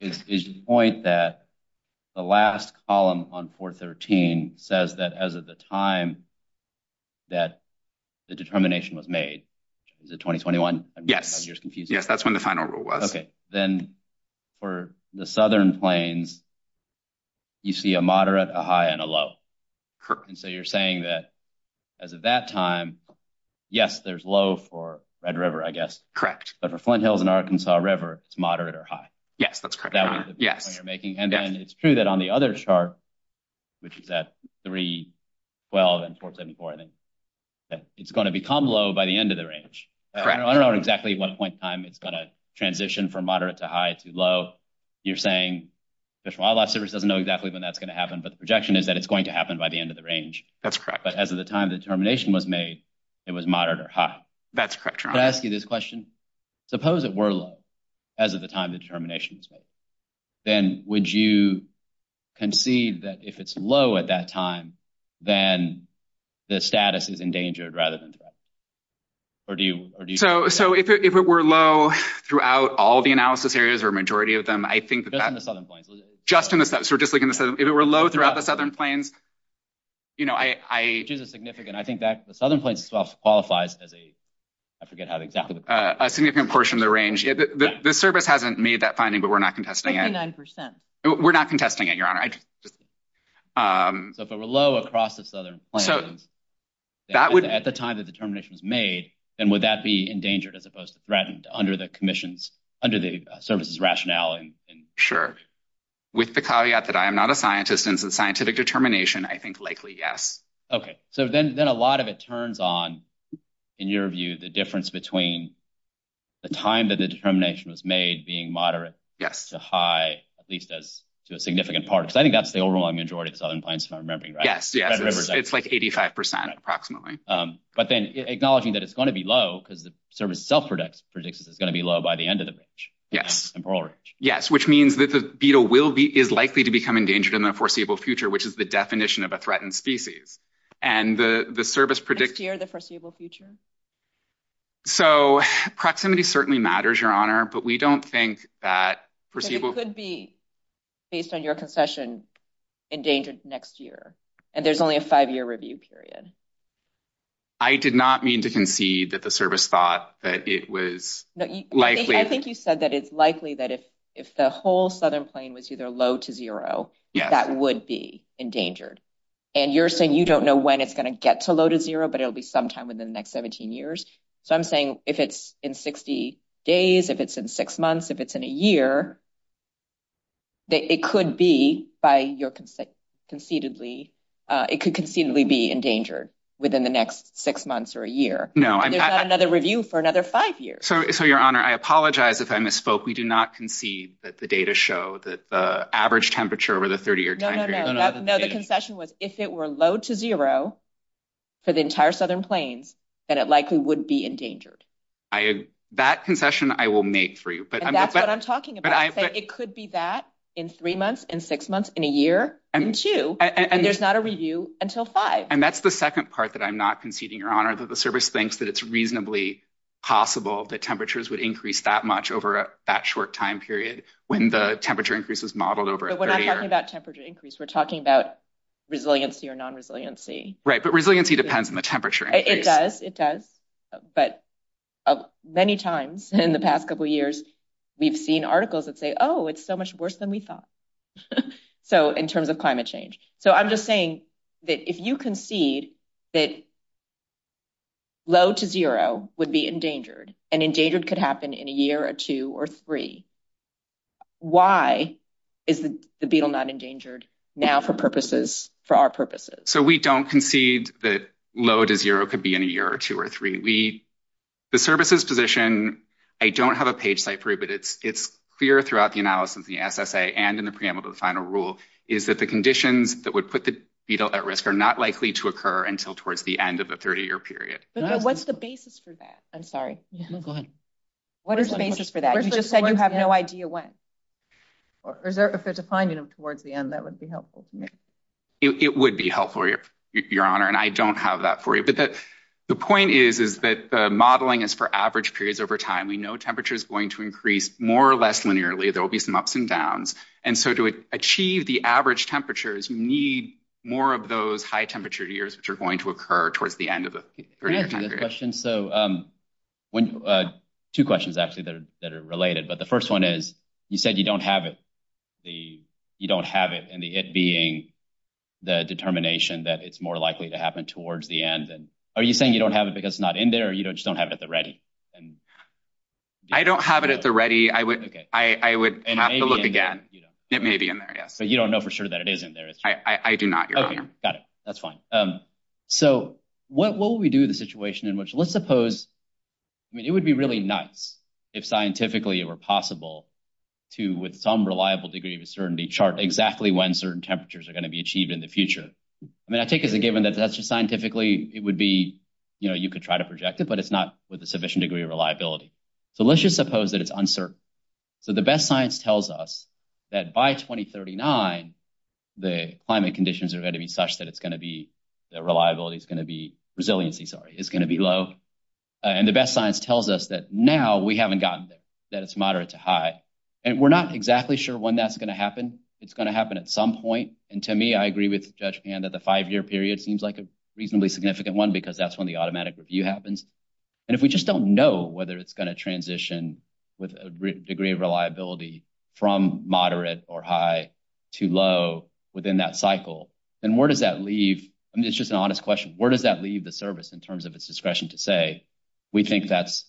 is the point that the last column on 413 says that as of the time that the determination was made, the 2021? Yes. Yes, that's when the final rule was. Okay. Then for the Southern Plains, you see a moderate, a high, and a low. And so you're saying that as of that time, yes, there's low for Red River, I guess. Correct. But for Flint Hills and Arkansas River, it's moderate or high. Yes, that's correct. And then it's true that on the other chart, which is at 312 and 474, it's going to become low by the end of the range. I don't know exactly what point in time it's going to transition from moderate to high to low. You're saying the Fish and Wildlife Service doesn't know exactly when that's going to happen, but the projection is that it's going to happen by the end of the range. That's correct. But as of the time the determination was made, it was moderate or high. That's correct. Can I ask you this question? Suppose it were low as of the time the determination was made. Then would you concede that if it's low at that time, then the status is endangered rather than safe? So if it were low throughout all the analysis areas or a majority of them, I think that's... Just in the Southern Plains. Just in the Southern Plains. If it were low throughout the Southern Plains, you know, I... Which is significant. I think that the Southern Plains itself qualifies as a, I forget how exactly... A significant portion of the range. The service hasn't made that finding, but we're not contesting it. 59%. We're not contesting it, Your Honor. But if it were low across the Southern Plains, at the time the determination was made, then would that be endangered as opposed to threatened under the commission's, under the service's rationale? Sure. With the caveat that I am not a scientist and it's a scientific determination, I think likely yes. Okay. So then a lot of it turns on, in your view, the difference between the time that the determination was made being moderate to high, at least to a significant part, because I think that's the overall majority of the Southern Plains, if I'm remembering right. Yes. It's like 85%, approximately. But then acknowledging that it's going to be low because the service itself predicts it's going to be low by the end of the range. Yes. Yes, which means that the beetle is likely to become endangered in the foreseeable future, which is the definition of a threatened species. And the service predicts... Next year, the foreseeable future? So proximity certainly matters, Your Honor, but we don't think that foreseeable... It could be, based on your concession, endangered next year. And there's only a five-year review period. I did not mean to concede that the service thought that it was likely... I think you said that it's likely that if the whole Southern Plain was either low to zero, that would be endangered. And you're saying you don't know when it's going to get to low to zero, but it'll be sometime within the next 17 years. So I'm saying if it's in 60 days, if it's in six months, if it's in a year, it could be by your conceitedly... It could conceitedly be endangered within the next six months or a year. No, I'm not... And there's not another review for another five years. So, Your Honor, I apologize if I misspoke. We do not concede that the data show that the average temperature over the 30-year time period... No, the concession was if it were low to zero for the entire Southern Plains, then it likely would be endangered. That concession, I will make for you. And that's what I'm talking about. I said it could be that in three months, in six months, in a year, in two. And there's not a review until five. And that's the second part that I'm not conceding, Your Honor, that the service thinks that it's reasonably possible that temperatures would increase that much over that short time period when the temperature increase was modeled over a 30-year... But we're not talking about temperature increase. We're talking about resiliency or non-resiliency. Right. But resiliency depends on the temperature increase. It does. It does. But many times in the past couple of years, we've seen articles that say, oh, it's so much worse than we thought. So, in terms of climate change. So, I'm just saying that if you concede that low to zero would be endangered and endangered could happen in a year or two or three, why is the beetle not endangered now for our purposes? So, we don't concede that low to zero could be in a year or two or three. The services position, I don't have a page type for it, but it's clear throughout the analysis in the SSA and in the preamble to the final rule, is that the conditions that would put the beetle at risk are not likely to occur until towards the end of the 30-year period. What's the basis for that? I'm sorry. Go ahead. What is the basis for that? You just said you have no idea when. If there's a finding towards the end, that would be helpful to me. It would be helpful, Your Honor, and I don't have that for you. The point is that the modeling is for average periods over time. We know temperature is going to increase more or less linearly. There will be some ups and downs. And so, to achieve the average temperatures, you need more of those high-temperature years, which are going to occur towards the end of the period. Two questions, actually, that are related. The first one is, you said you don't have it, and the it being the determination that it's more likely to happen towards the end. Are you saying you don't have it because it's not in there, or you just don't have it at the ready? I don't have it at the ready. I would have to look again. It may be in there, yes. But you don't know for sure that it is in there. I do not, Your Honor. Okay, got it. That's fine. So, what will we do in the situation in which, let's suppose, I mean, it would be really nice if scientifically it were possible to, with some reliable degree of certainty, chart exactly when certain temperatures are going to be achieved in the future. I mean, I think as a given that that's just scientifically, it would be, you know, you could try to project it, but it's not with a sufficient degree of reliability. So, let's just suppose that it's uncertain. So, the best science tells us that by 2039, the climate conditions are going to be such that it's going to be, that reliability is going to be, resiliency, sorry, is going to be low. And the best science tells us that now we haven't gotten there, that it's moderate to high. And we're not exactly sure when that's going to happen. It's going to happen at some point. And to me, I agree with Judge Pan that the five-year period seems like a reasonably significant one because that's when the automatic review happens. And if we just don't know whether it's going to transition with a degree of reliability from moderate or high to low within that cycle, then where does that leave, I mean, it's just an honest question, where does that leave the service in terms of its discretion to say, we think that's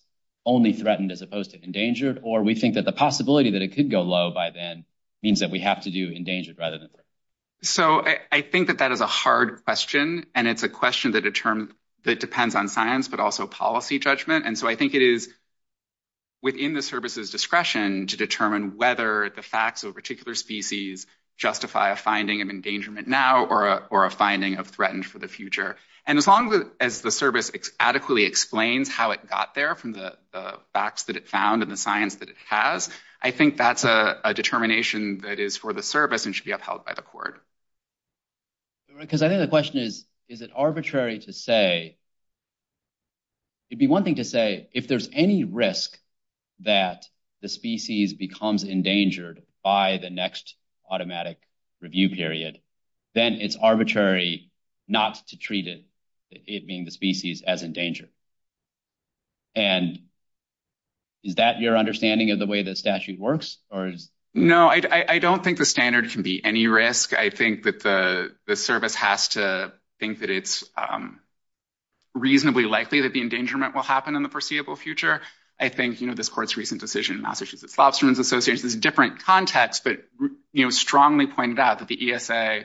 only threatened as opposed to endangered? Or we think that the possibility that it could go low by then means that we have to do endangered rather than this? So, I think that that is a hard question. And it's a question that depends on science, but also policy judgment. And so, I think it is within the service's discretion to determine whether the facts of a particular species justify a finding of endangerment now or a finding of threatened for the future. And as long as the service adequately explains how it got there from the facts that it found and the science that it has, I think that's a determination that is for the service and should be upheld by the court. Because I think the question is, is it arbitrary to say – it would be one thing to say, if there's any risk that the species becomes endangered by the next automatic review period, then it's arbitrary not to treat it, it being the species, as endangered. And is that your understanding of the way the statute works? No, I don't think the standard can be any risk. I think that the service has to think that it's reasonably likely that the endangerment will happen in the foreseeable future. I think this court's recent decision in Massachusetts Lobsterman's Association is a different context, but strongly pointed out that the ESA,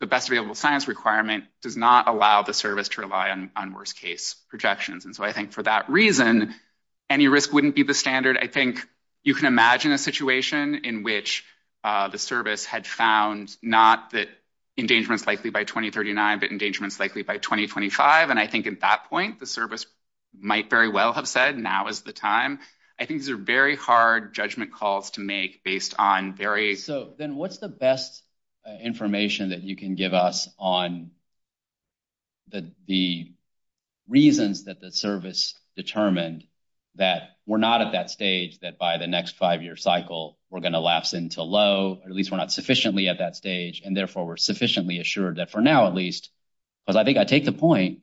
the best available science requirement, does not allow the service to rely on worst case projections. And so I think for that reason, any risk wouldn't be the standard. I think you can imagine a situation in which the service had found not that endangerment's likely by 2039, but endangerment's likely by 2025. And I think at that point, the service might very well have said, now is the time. I think these are very hard judgment calls to make based on very – So then what's the best information that you can give us on the reasons that the service determined that we're not at that stage, that by the next five-year cycle, we're going to last until low, or at least we're not sufficiently at that stage, and therefore we're sufficiently assured that for now, at least – because I think I take the point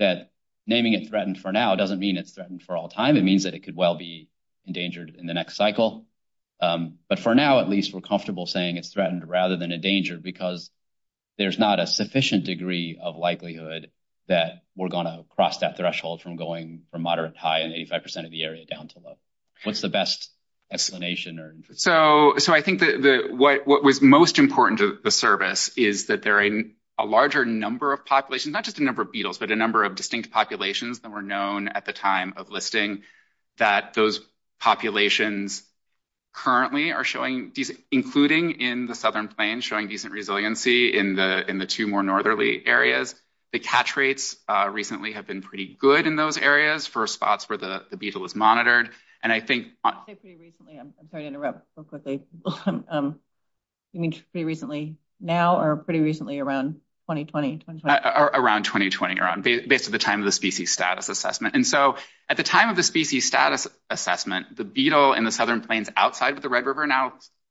that naming it threatened for now doesn't mean it's threatened for all time. It means that it could well be endangered in the next cycle. But for now, at least, we're comfortable saying it's threatened rather than endangered because there's not a sufficient degree of likelihood that we're going to cross that threshold from going from moderate to high and 85% of the area down to low. What's the best explanation or – So I think what was most important to the service is that there are a larger number of populations – not just the number of beetles, but a number of distinct populations that were known at the time of listing that those populations currently are showing – including in the southern plains – showing decent resiliency in the two more northerly areas. The catch rates recently have been pretty good in those areas for spots where the beetle is monitored. I'm sorry to interrupt. You mean pretty recently now or pretty recently around 2020? Around 2020, around basically the time of the species status assessment. And so at the time of the species status assessment, the beetle in the southern plains outside of the Red River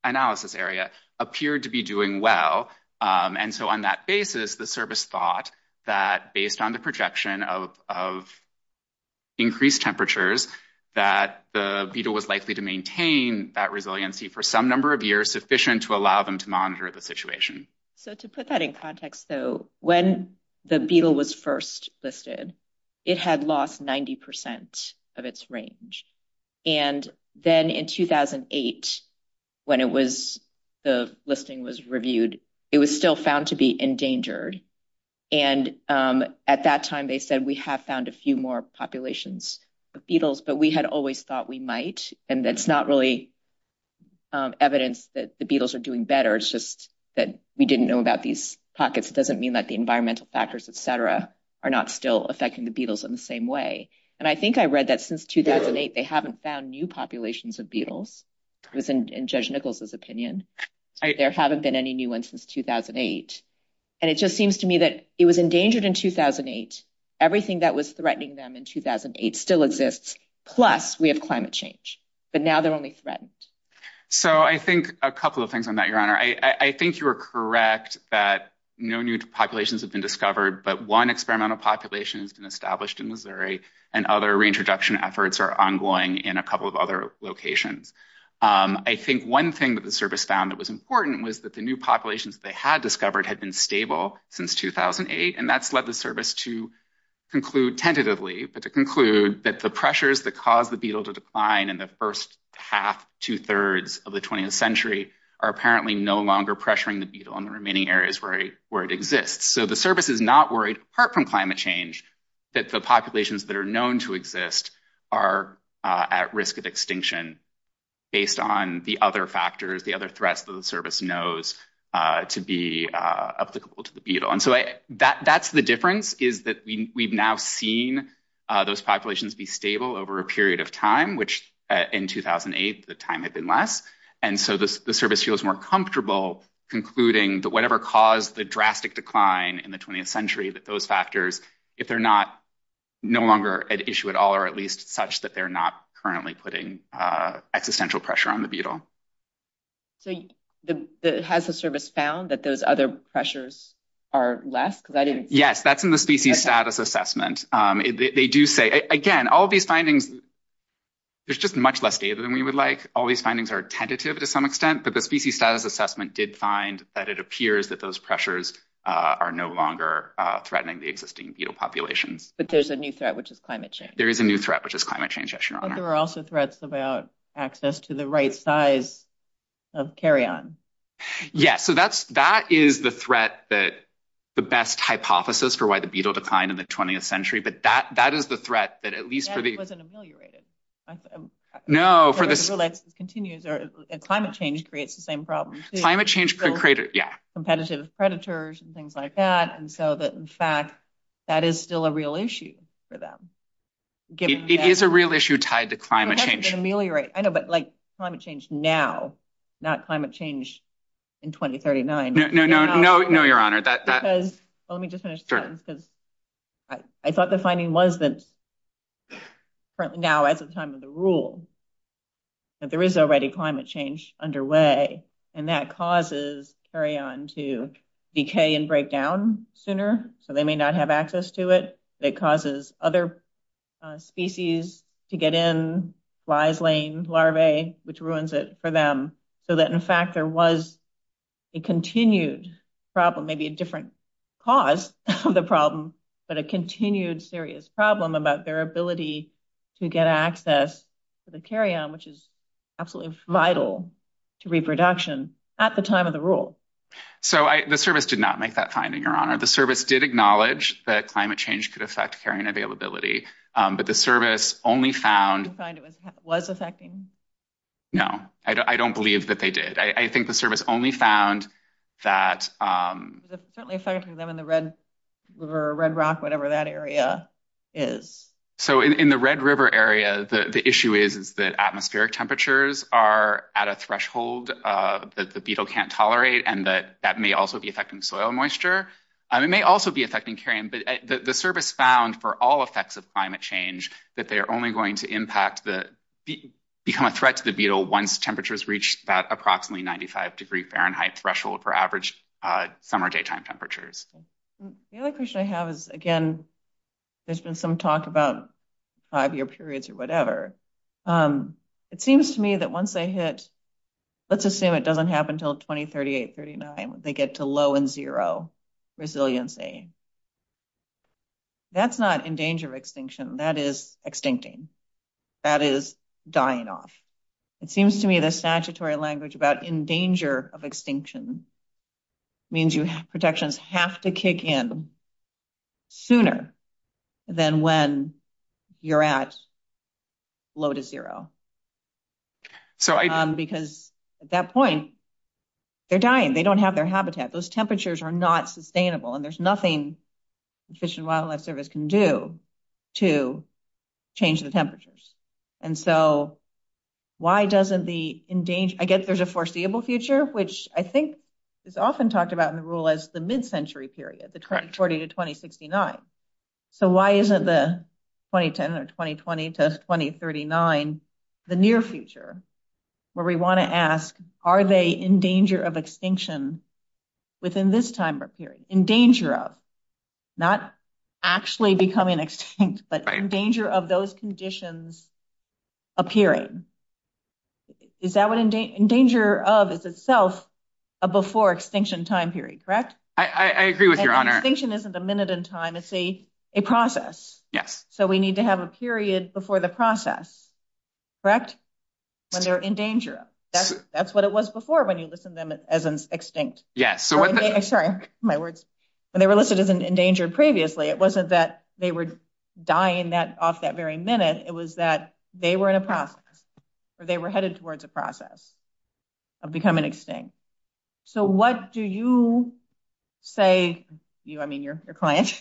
Analysis Area appeared to be doing well. And so on that basis, the service thought that based on the projection of increased temperatures that the beetle was likely to maintain that resiliency for some number of years sufficient to allow them to monitor the situation. So to put that in context, though, when the beetle was first listed, it had lost 90% of its range. And then in 2008, when it was – the listing was reviewed, it was still found to be endangered. And at that time, they said, we have found a few more populations of beetles, but we had always thought we might. And that's not really evidence that the beetles are doing better. It's just that we didn't know about these pockets. It doesn't mean that the environmental factors, et cetera, are not still affecting the beetles in the same way. And I think I read that since 2008, they haven't found new populations of beetles within Judge Nichols' opinion. There haven't been any new ones since 2008. And it just seems to me that it was endangered in 2008. Everything that was threatening them in 2008 still exists, plus we have climate change. But now they're only threatened. So I think a couple of things on that, Your Honor. I think you are correct that no new populations have been discovered, but one experimental population has been established in Missouri, and other reintroduction efforts are ongoing in a couple of other locations. I think one thing that the service found that was important was that the new populations they had discovered had been stable since 2008. And that's led the service to conclude tentatively, to conclude that the pressures that caused the beetle to decline in the first half, two thirds of the 20th century are apparently no longer pressuring the beetle in the remaining areas where it exists. So the service is not worried, apart from climate change, that the populations that are known to exist are at risk of extinction based on the other factors, the other threats that the service knows to be applicable to the beetle. And so that's the difference, is that we've now seen those populations be stable over a period of time, which in 2008 the time had been less. And so the service feels more comfortable concluding that whatever caused the drastic decline in the 20th century, that those factors, if they're no longer an issue at all, or at least such that they're not currently putting existential pressure on the beetle. So has the service found that those other pressures are less? Yes, that's in the species status assessment. And they do say, again, all these findings, there's just much less data than we would like. All these findings are tentative to some extent, but the species status assessment did find that it appears that those pressures are no longer threatening the existing beetle population. But there's a new threat, which is climate change. There is a new threat, which is climate change, yes, your honor. But there are also threats about access to the right size of carrion. Yes, so that's that is the threat that the best hypothesis for why the beetle declined in the 20th century. But that that is the threat that at least for the... That it wasn't ameliorated. No, for the... So let's continue, climate change creates the same problems. Climate change can create, yeah. Competitive predators and things like that. And so that in fact, that is still a real issue for them. It is a real issue tied to climate change. Ameliorate, I know, but like climate change now, not climate change in 2039. No, your honor, that... Let me just finish. I thought the finding was that now, at the time of the rule, that there is already climate change underway. And that causes carrion to decay and break down sooner. So they may not have access to it. It causes other species to get in, flies, lames, larvae, which ruins it for them. So that in fact, there was a continued problem, maybe a different cause of the problem. But a continued serious problem about their ability to get access to the carrion, which is absolutely vital to reproduction at the time of the rule. So the service did not make that finding, your honor. The service did acknowledge that climate change could affect carrion availability, but the service only found... Did they find it was affecting? No, I don't believe that they did. I think the service only found that... It's certainly affecting them in the Red River, Red Rock, whatever that area is. So in the Red River area, the issue is that atmospheric temperatures are at a threshold that the beetle can't tolerate. And that may also be affecting soil moisture. It may also be affecting carrion, but the service found for all effects of climate change, that they're only going to impact the... Become a threat to the beetle once temperatures reach that approximately 95 degree Fahrenheit threshold for average summer daytime temperatures. The other question I have is, again, there's been some talk about five-year periods or whatever. It seems to me that once they hit... Let's assume it doesn't happen until 2038, 39. They get to low and zero resiliency. That's not in danger of extinction. That is extincting. That is dying off. It seems to me the statutory language about in danger of extinction means your protections have to kick in sooner than when you're at low to zero. Because at that point, they're dying. They don't have their habitat. Those temperatures are not sustainable. And there's nothing the Fish and Wildlife Service can do to change the temperatures. And so why doesn't the... I guess there's a foreseeable future, which I think is often talked about in the rule as the mid-century period, the 20 to 2069. So why isn't the 2010 or 2020 to 2039, the near future, where we want to ask, are they in danger of extinction within this time period? Not actually becoming extinct, but in danger of those conditions appearing. Is that what in danger of is itself a before extinction time period, correct? I agree with your honor. Extinction isn't a minute in time. It's a process. Yes. So we need to have a period before the process. Correct? And they're in danger. That's what it was before when you listen to them as extinct. Yes. Sorry, my words. When they were listed as endangered previously, it wasn't that they were dying off that very minute. It was that they were in a process, or they were headed towards a process of becoming extinct. So what do you say, I mean, your client,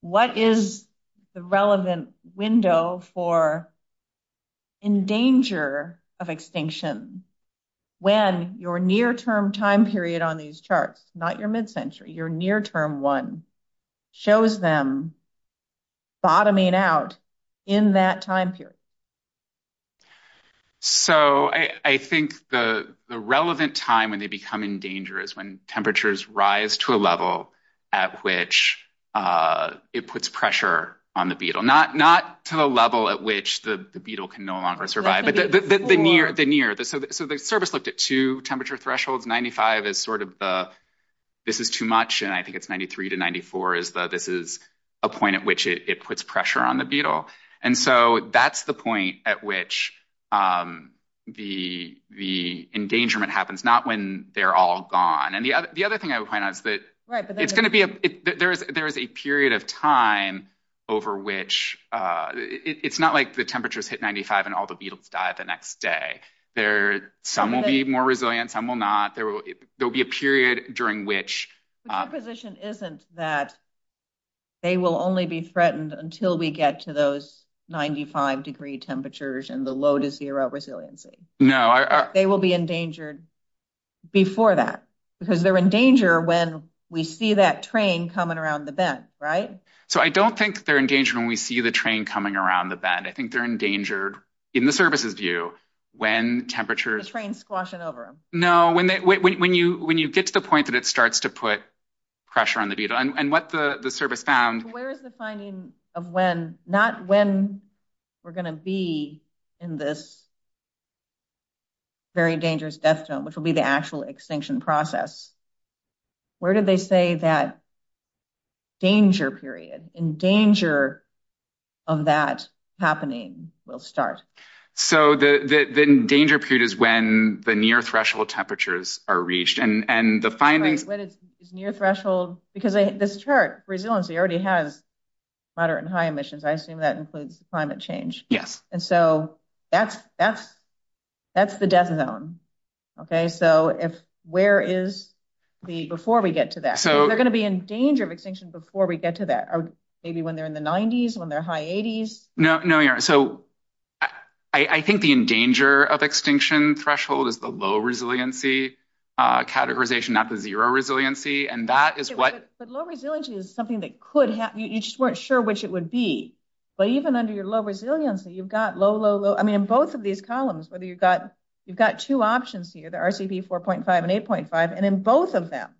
what is the relevant window for in danger of extinction when your near term time period on these charts, not your mid-century, your near term one, shows them bottoming out in that time period? So I think the relevant time when they become in danger is when temperatures rise to a level at which it puts pressure on the beetle. Not to the level at which the beetle can no longer survive, but the near. So the service looked at two temperature thresholds. 95 is sort of the this is too much. And I think it's 93 to 94 is that this is a point at which it puts pressure on the beetle. And so that's the point at which the engagement happens. Not when they're all gone. And the other thing I would find out is that there is a period of time over which it's not like the temperatures hit 95 and all the beetles die the next day. Some will be more resilient. Some will not. There will be a period during which the position isn't that. They will only be threatened until we get to those 95 degree temperatures and the load is zero resiliency. No, they will be endangered. Before that, because they're in danger when we see that train coming around the bed. Right? So I don't think they're in danger when we see the train coming around the bed. I think they're endangered in the services view. The train squashing over them. No, when you get to the point that it starts to put pressure on the beetle. And what the service found. Where is the finding of when, not when we're going to be in this very dangerous death zone, which will be the actual extinction process. Where did they say that danger period, in danger of that happening will start? So the danger period is when the near threshold temperatures are reached and the findings. Near threshold, because this chart resiliency already has moderate and high emissions. I assume that includes climate change. Yes. And so that's the death zone. So where is the before we get to that? So they're going to be in danger of extinction before we get to that. Maybe when they're in the 90s, when they're high 80s. So I think the endanger of extinction threshold is the low resiliency categorization, not the zero resiliency. And that is what. But low resiliency is something that could happen. You just weren't sure which it would be. But even under your low resiliency, you've got low, low, low. I mean, both of these columns, whether you've got you've got two options here, the RCP 4.5 and 8.5. And in both of them,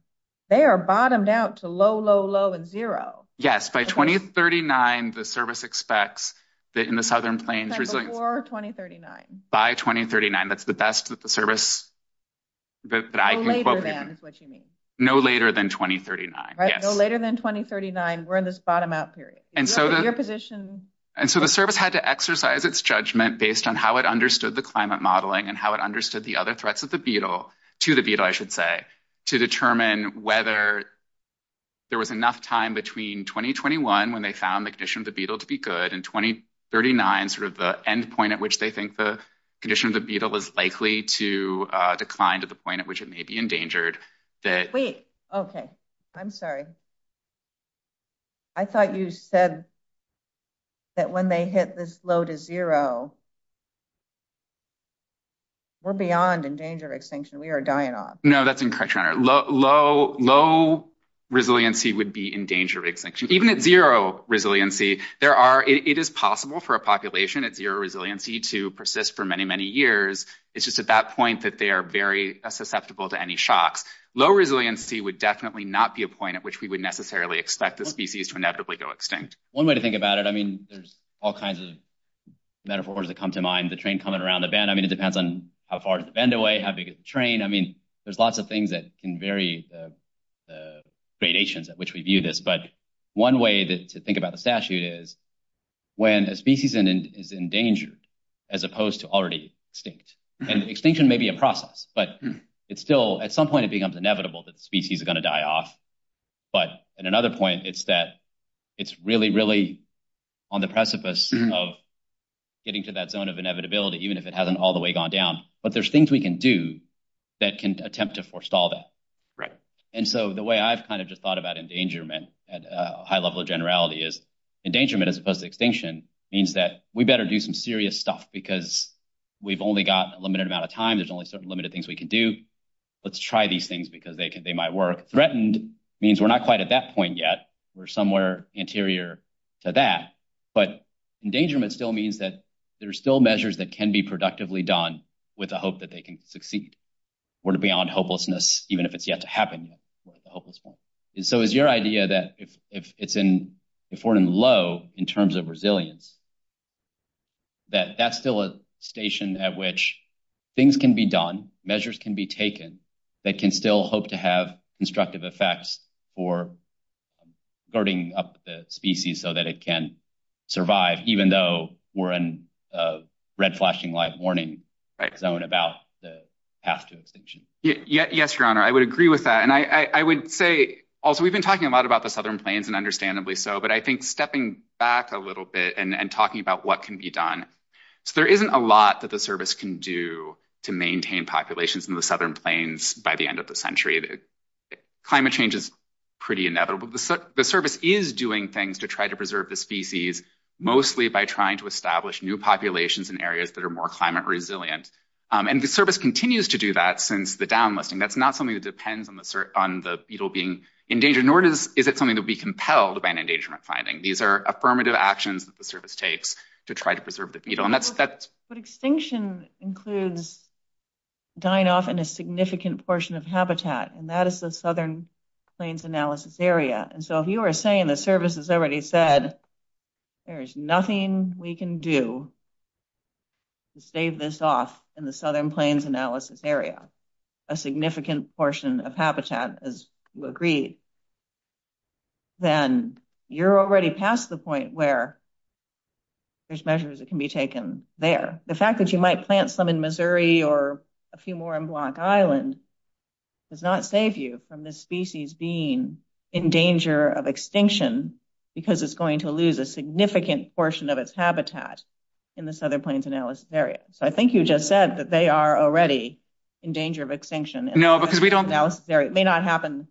they are bottomed out to low, low, low and zero. Yes. By 2039, the service expects that in the southern plains. By 2039. By 2039. That's the best that the service. No later than 2039. No later than 2039. We're in this bottom out period. And so the service had to exercise its judgment based on how it understood the climate modeling and how it understood the other threats of the beetle to the beetle, I should say, to determine whether. There was enough time between 2021 when they found the condition of the beetle to be good in 2039, sort of the end point at which they think the condition of the beetle is likely to decline to the point at which it may be endangered. Okay. I'm sorry. I thought you said. That when they hit this low to zero. We're beyond in danger of extinction. We are dying off. No, that's incorrect. Low, low, low resiliency would be in danger of extinction, even at zero resiliency. There are it is possible for a population at zero resiliency to persist for many, many years. It's just at that point that they are very susceptible to any shock. Low resiliency would definitely not be a point at which we would necessarily expect the species to inevitably go extinct. One way to think about it, I mean, there's all kinds of metaphors that come to mind, the train coming around the bend. I mean, it depends on how far the bend away, how big the train. I mean, there's lots of things that can vary the variations at which we view this. But one way to think about the statute is when a species is endangered, as opposed to already extinct. And extinction may be a process, but it's still at some point it becomes inevitable that the species is going to die off. But at another point, it's that it's really, really on the precipice of getting to that zone of inevitability, even if it hasn't all the way gone down. But there's things we can do that can attempt to forestall that. And so the way I've kind of just thought about endangerment at a high level of generality is endangerment as opposed to extinction means that we better do some serious stuff because we've only got a limited amount of time. There's only certain limited things we can do. Let's try these things because they might work. Threatened means we're not quite at that point yet. We're somewhere anterior to that. But endangerment still means that there are still measures that can be productively done with the hope that they can succeed or to be on hopelessness, even if it's yet to happen. And so is your idea that if it's in, if we're in low in terms of resilience, that that's still a station at which things can be done, measures can be taken that can still hope to have constructive effects for starting up the species so that it can survive, even though we're in a red flashing light warning zone about the path to extinction? Yes, your honor, I would agree with that. And I would say, also, we've been talking a lot about the Southern Plains and understandably so, but I think stepping back a little bit and talking about what can be done. So there isn't a lot that the service can do to maintain populations in the Southern Plains by the end of the century. Climate change is pretty inevitable. The service is doing things to try to preserve the species, mostly by trying to establish new populations in areas that are more climate resilient. And the service continues to do that since the down listing. That's not something that depends on the beetle being endangered, nor is it something that would be compelled by an endangerment finding. These are affirmative actions that the service takes to try to preserve the beetle. But extinction includes dying off in a significant portion of habitat, and that is the Southern Plains analysis area. And so if you were saying, the service has already said, there is nothing we can do to save this off in the Southern Plains analysis area, a significant portion of habitat, as you agreed, then you're already past the point where there's measures that can be taken there. The fact that you might plant some in Missouri or a few more in Black Island does not save you from this species being in danger of extinction because it's going to lose a significant portion of its habitat in the Southern Plains analysis area. I think you just said that they are already in danger of extinction. It may not happen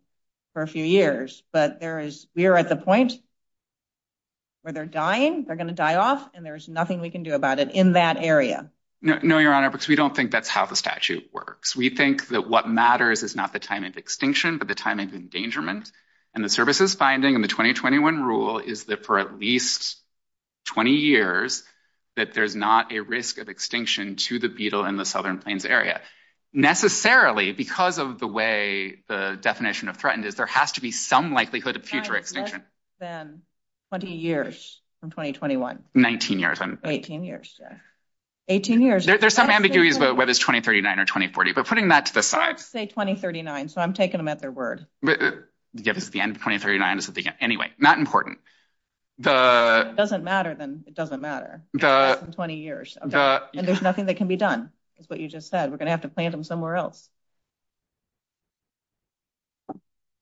for a few years, but we're at the point where they're dying, they're going to die off, and there's nothing we can do about it in that area. No, Your Honor, because we don't think that's how the statute works. We think that what matters is not the time of extinction, but the time of endangerment. And the services finding in the 2021 rule is that for at least 20 years that there's not a risk of extinction to the beetle in the Southern Plains area. But necessarily, because of the way the definition of threatened is, there has to be some likelihood of future extinction. It's been 20 years from 2021. 18 years. There's some ambiguity about whether it's 2039 or 2040. We're putting that to the side. Let's say 2039, so I'm taking them at their word. 2039 is what they get. Anyway, not important. If it doesn't matter, then it doesn't matter. It's been 20 years. And there's nothing that can be done, is what you just said. We're going to have to plant them somewhere else.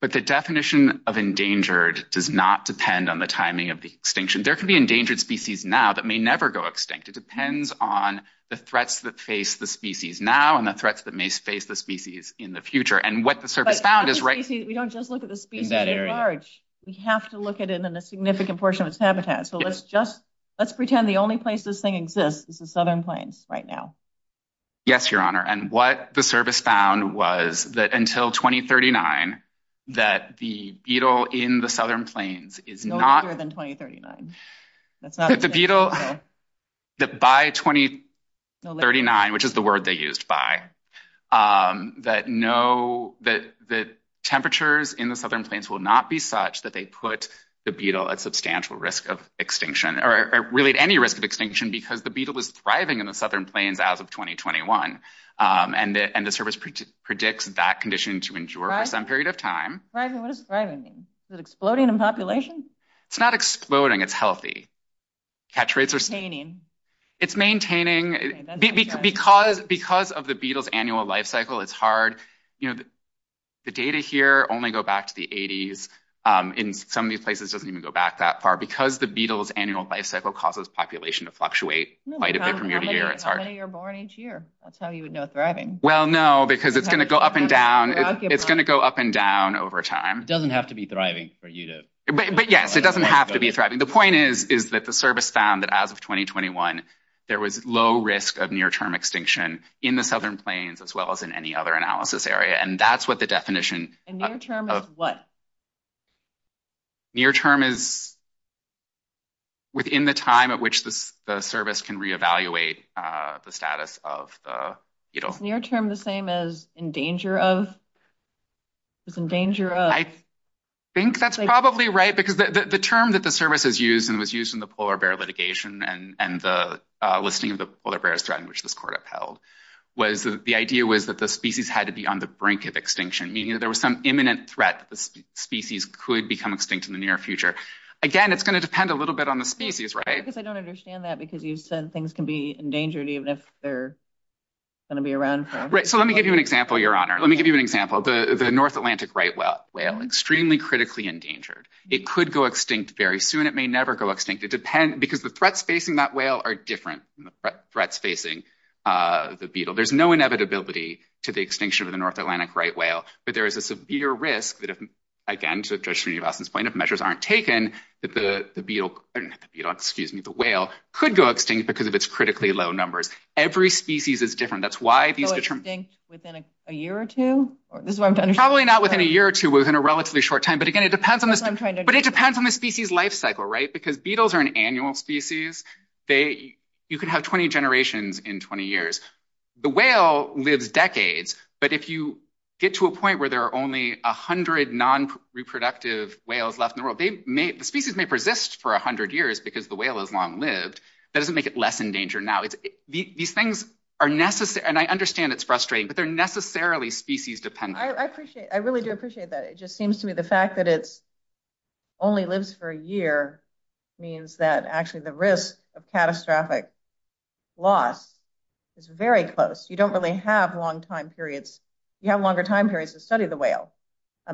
But the definition of endangered does not depend on the timing of the extinction. There could be endangered species now that may never go extinct. It depends on the threats that face the species now and the threats that may face the species in the future. We don't just look at the species at large. We have to look at it in a significant portion of its habitat. So let's pretend the only place this thing exists is the Southern Plains right now. Yes, Your Honor. And what the service found was that until 2039, that the beetle in the Southern Plains is not... No, it's more than 2039. The beetle that by 2039, which is the word they used by, that temperatures in the Southern Plains will not be such that they put the beetle at substantial risk of extinction, or really any risk of extinction, because the beetle was thriving in the Southern Plains as of 2021. And the service predicts that condition to endure for some period of time. Thriving? What does thriving mean? Is it exploding in population? It's not exploding. It's healthy. Maintaining? It's maintaining. Because of the beetle's annual life cycle, it's hard. The data here only go back to the 80s. In some of these places, it doesn't even go back that far because the beetle's annual life cycle causes population to fluctuate quite a bit from year to year. I thought you were born each year. That's how you would know thriving. Well, no, because it's going to go up and down. It's going to go up and down over time. It doesn't have to be thriving for you to... But yes, it doesn't have to be thriving. The point is that the service found that as of 2021, there was low risk of near-term extinction in the Southern Plains as well as in any other analysis area. And that's what the definition... And near-term is what? Near-term is within the time at which the service can reevaluate the status of the beetle. Is near-term the same as in danger of? I think that's probably right because the term that the service has used and was used in the polar bear litigation and the listing of the polar bear threat, which this court upheld, was the idea was that the species had to be on the brink of extinction. Meaning there was some imminent threat that the species could become extinct in the near future. Again, it's going to depend a little bit on the species, right? I don't understand that because you said things can be endangered even if they're going to be around forever. So let me give you an example, Your Honor. Let me give you an example. The North Atlantic right whale, extremely critically endangered. It could go extinct very soon. It may never go extinct. Because the threats facing that whale are different from the threats facing the beetle. There's no inevitability to the extinction of the North Atlantic right whale. But there is a severe risk that if, again, to Judge Srinivasan's point, if measures aren't taken, that the whale could go extinct because of its critically low numbers. Every species is different. That's why... So it's extinct within a year or two? Probably not within a year or two, but within a relatively short time. But again, it depends on the species life cycle, right? Because beetles are an annual species. You could have 20 generations in 20 years. The whale lives decades. But if you get to a point where there are only 100 non-reproductive whales left in the world, the species may persist for 100 years because the whale has long lived. That doesn't make it less endangered now. These things are necessary, and I understand it's frustrating, but they're necessarily species-dependent. I really do appreciate that. It just seems to me the fact that it only lives for a year means that actually the risk of catastrophic loss is very close. You don't really have long time periods. You have longer time periods to study the whale.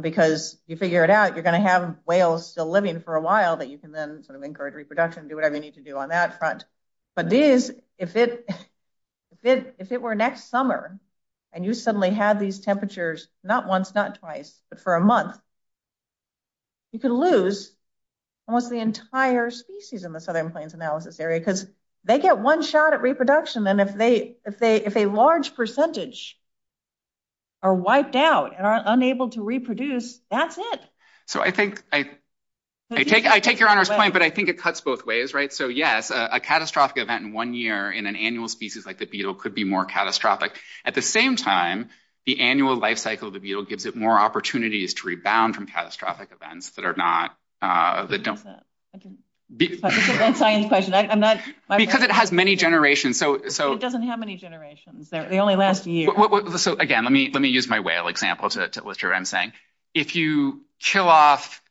Because if you figure it out, you're going to have whales still living for a while, but you can then encourage reproduction and do whatever you need to do on that front. But if it were next summer, and you suddenly had these temperatures not once, not twice, but for a month, you could lose almost the entire species in the Southern Plains Analysis Area. Because they get one shot at reproduction, and if a large percentage are wiped out and are unable to reproduce, that's it. I take your Honor's point, but I think it cuts both ways, right? So, yes, a catastrophic event in one year in an annual species like the beetle could be more catastrophic. At the same time, the annual life cycle of the beetle gives it more opportunities to rebound from catastrophic events that are not... Because it has many generations. It doesn't have many generations. They only last a year. Again, let me use my whale example to illustrate what I'm saying. If you kill off...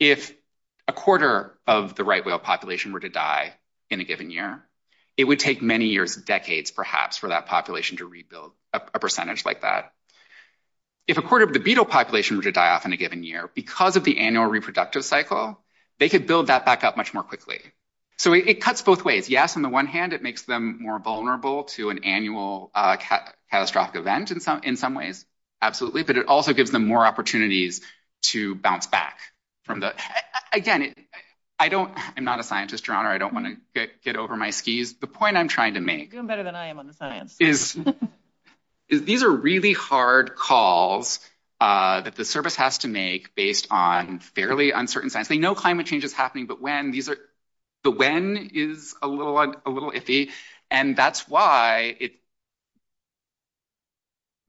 If a quarter of the right whale population were to die in a given year, it would take many years, decades perhaps, for that population to rebuild, a percentage like that. If a quarter of the beetle population were to die off in a given year, because of the annual reproductive cycle, they could build that back up much more quickly. So it cuts both ways. Yes, on the one hand, it makes them more vulnerable to an annual catastrophic event in some ways, absolutely. But it also gives them more opportunities to bounce back from that. Again, I don't... I'm not a scientist, Your Honor. I don't want to get over my skis. The point I'm trying to make... You're doing better than I am on the science. These are really hard calls that the service has to make based on fairly uncertain science. They know climate change is happening, but when? The when is a little iffy. And that's why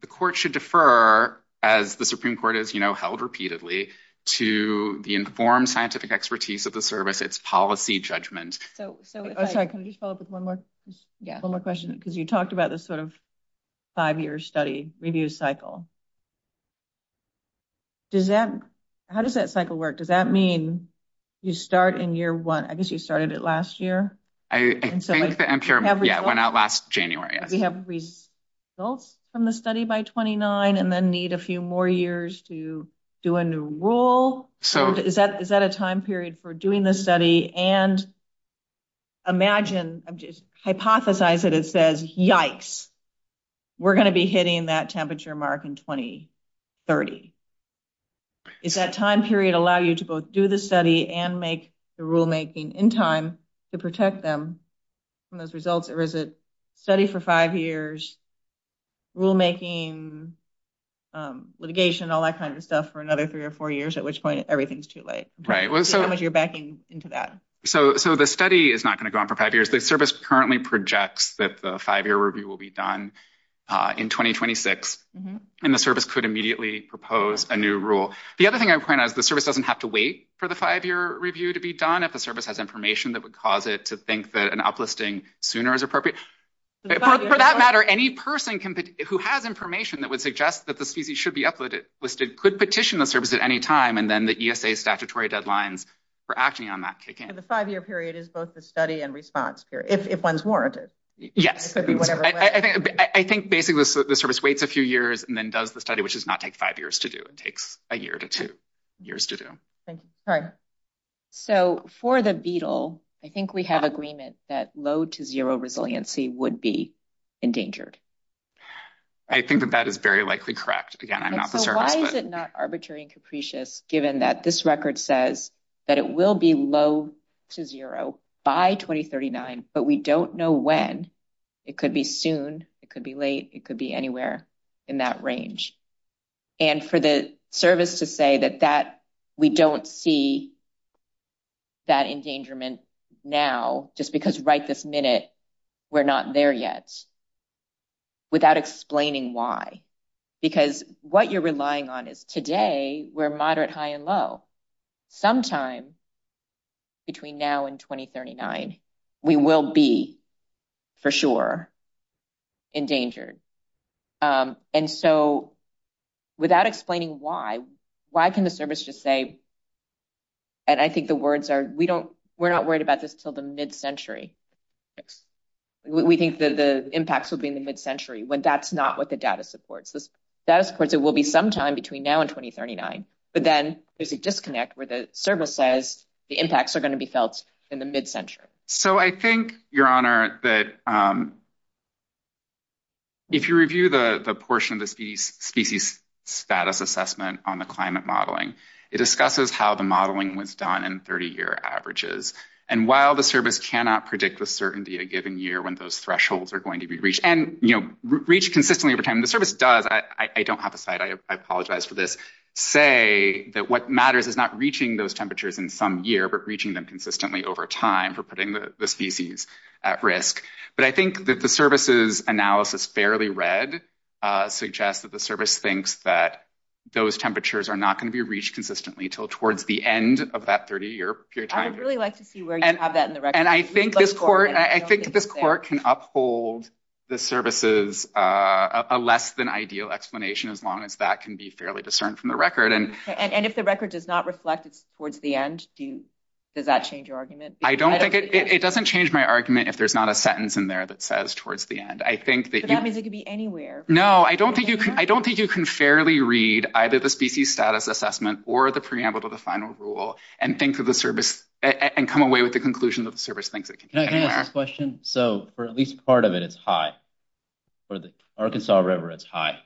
the court should defer, as the Supreme Court has held repeatedly, to the informed scientific expertise of the service, its policy judgment. Can I just follow up with one more question? Because you talked about this sort of five-year study review cycle. How does that cycle work? Does that mean you start in year one? I guess you started it last year. I think that I'm sure it went out last January. Do we have results from the study by 29 and then need a few more years to do a new rule? Is that a time period for doing this study? And imagine... Hypothesize that it says, yikes, we're going to be hitting that temperature mark in 2030. Does that time period allow you to both do the study and make the rulemaking in time to protect them from those results? Or is it study for five years, rulemaking, litigation, all that kind of stuff for another three or four years, at which point everything's too late? How much are you backing into that? So the study is not going to go on for five years. The service currently projects that the five-year review will be done in 2026, and the service could immediately propose a new rule. The other thing I would point out is the service doesn't have to wait for the five-year review to be done if the service has information that would cause it to think that an uplisting sooner is appropriate. For that matter, any person who has information that would suggest that the CC should be uplisted could petition the service at any time, and then the ESA statutory deadlines for acting on that kick in. So the five-year period is both the study and response period, if one's warranted? Yes. I think basically the service waits a few years and then does the study, which does not take five years to do. It takes a year to two years to do. Thank you. So for the beetle, I think we have agreement that low to zero resiliency would be endangered. I think that that is very likely correct. Why is it not arbitrary and capricious given that this record says that it will be low to zero by 2039, but we don't know when? It could be soon. It could be late. It could be anywhere in that range. And for the service to say that we don't see that endangerment now just because right this minute we're not there yet without explaining why. Because what you're relying on is today we're moderate, high, and low. Sometime between now and 2039, we will be for sure endangered. And so without explaining why, why can the service just say, and I think the words are, we're not worried about this until the mid-century. We think that the impacts will be in the mid-century when that's not what the data supports. The data supports it will be sometime between now and 2039, but then there's a disconnect where the service says the impacts are going to be felt in the mid-century. So I think, Your Honor, that if you review the portion of the species status assessment on the climate modeling, it discusses how the modeling was done in 30-year averages. And while the service cannot predict the certainty of a given year when those thresholds are going to be reached, and reached consistently over time. The service does, I don't have a site. I apologize for this, say that what matters is not reaching those temperatures in some year, but reaching them consistently over time for putting the species at risk. But I think that the service's analysis, fairly read, suggests that the service thinks that those temperatures are not going to be reached consistently until towards the end of that 30-year period of time. I'd really like to see where you have that in the record. And I think this court can uphold the service's less than ideal explanation as long as that can be fairly discerned from the record. And if the record does not reflect towards the end, does that change your argument? It doesn't change my argument if there's not a sentence in there that says towards the end. So that means it could be anywhere. No, I don't think you can fairly read either the species status assessment or the preamble to the final rule and come away with the conclusion that the service thinks it can be anywhere. Can I ask a question? So, for at least part of it, it's high. For the Arkansas River, it's high.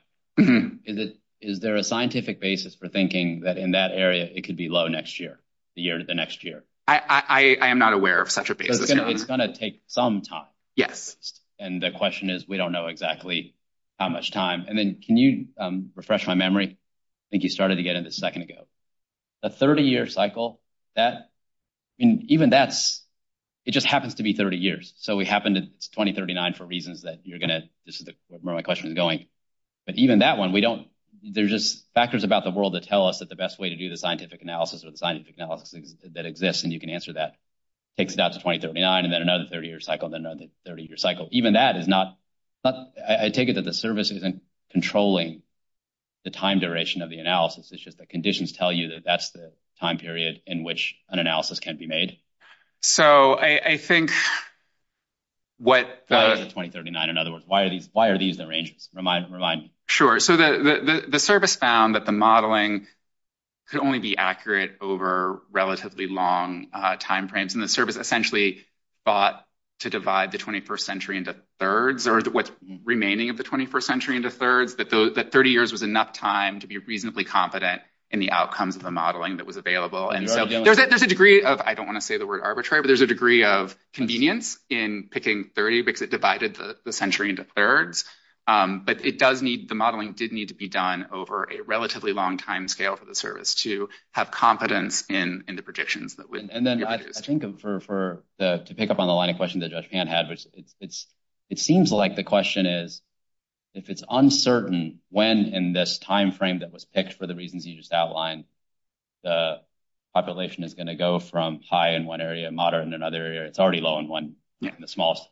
Is there a scientific basis for thinking that in that area, it could be low next year? The year to the next year? I am not aware of such a basis. It's going to take some time. Yes. And the question is, we don't know exactly how much time. And then can you refresh my memory? I think you started again a second ago. A 30-year cycle, even that's – it just happens to be 30 years. So it happened in 2039 for reasons that you're going to – this is where my question is going. But even that one, we don't – there's just factors about the world that tell us that the best way to do the scientific analysis or the scientific analysis that exists, and you can answer that, takes it down to 2039 and then another 30-year cycle and then another 30-year cycle. Even that is not – I take it that the service isn't controlling the time duration of the analysis. It's just the conditions tell you that that's the time period in which an analysis can be made. So I think what the – 2039, in other words. Why are these arranged? Remind me. Sure. So the service found that the modeling could only be accurate over relatively long timeframes. And the service essentially thought to divide the 21st century into thirds, or what's remaining of the 21st century into thirds, that 30 years was enough time to be reasonably competent in the outcomes of the modeling that was available. And there's a degree of – I don't want to say the word arbitrary, but there's a degree of convenience in picking 30 because it divided the century into thirds. But it does need – the modeling did need to be done over a relatively long timescale for the service to have competence in the predictions. And then I think for – to pick up on the line of questions that Judge Pan has, it seems like the question is, if it's uncertain when in this timeframe that was picked for the reasons you just outlined, the population is going to go from high in one area, moderate in another area – it's already low in one, the smallest.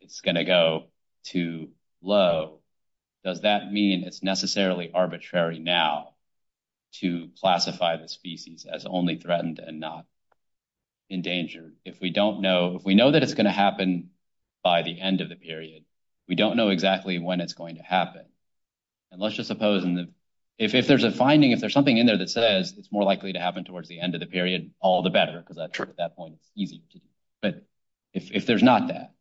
It's going to go to low. Does that mean it's necessarily arbitrary now to classify the species as only threatened and not endangered? If we don't know – if we know that it's going to happen by the end of the period, we don't know exactly when it's going to happen. And let's just suppose in the – if there's a finding, if there's something in there that says it's more likely to happen towards the end of the period, all the better. But if there's not that,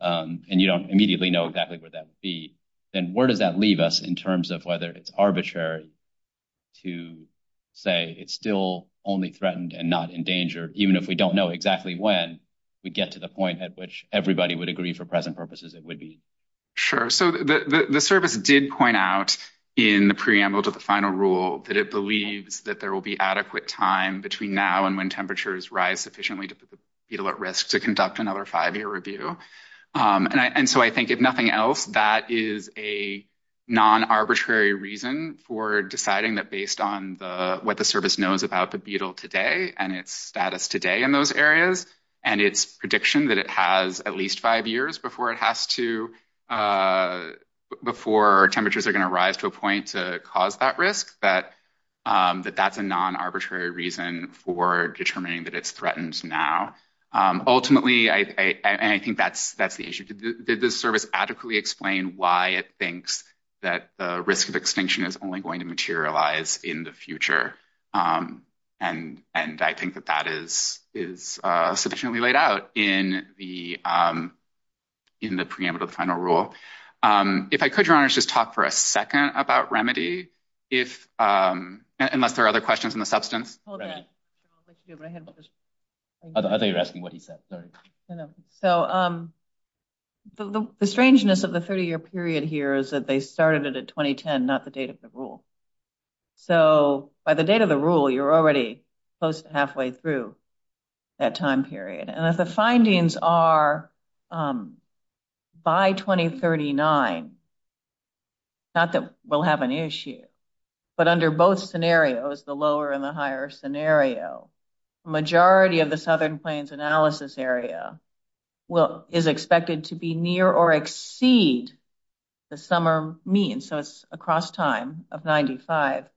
and you don't immediately know exactly where that would be, then where does that leave us in terms of whether it's arbitrary to say it's still only threatened and not endangered, even if we don't know exactly when we get to the point at which everybody would agree for present purposes it would be? Sure. So the service did point out in the preamble to the final rule that it believes that there will be adequate time between now and when temperatures rise sufficiently to put the beetle at risk to conduct another five-year review. And so I think if nothing else, that is a non-arbitrary reason for deciding that based on what the service knows about the beetle today and its status today in those areas and its prediction that it has at least five years before it has to – before temperatures are going to rise to a point to cause that risk, that that's a non-arbitrary reason for determining that it's threatened now. Ultimately, I think that's the issue. Did the service adequately explain why it thinks that the risk of extinction is only going to materialize in the future? And I think that that is sufficiently laid out in the preamble to the final rule. If I could, Your Honor, just talk for a second about remedy, unless there are other questions on the substance. I think you're asking what he said. Sorry. So the strangeness of the 30-year period here is that they started it at 2010, not the date of the rule. So by the date of the rule, you're already close to halfway through that time period. And if the findings are by 2039, not that we'll have an issue, but under both scenarios, the lower and the higher scenario, the majority of the Southern Plains analysis area is expected to be near or exceed the summer mean. So it's across time of 95,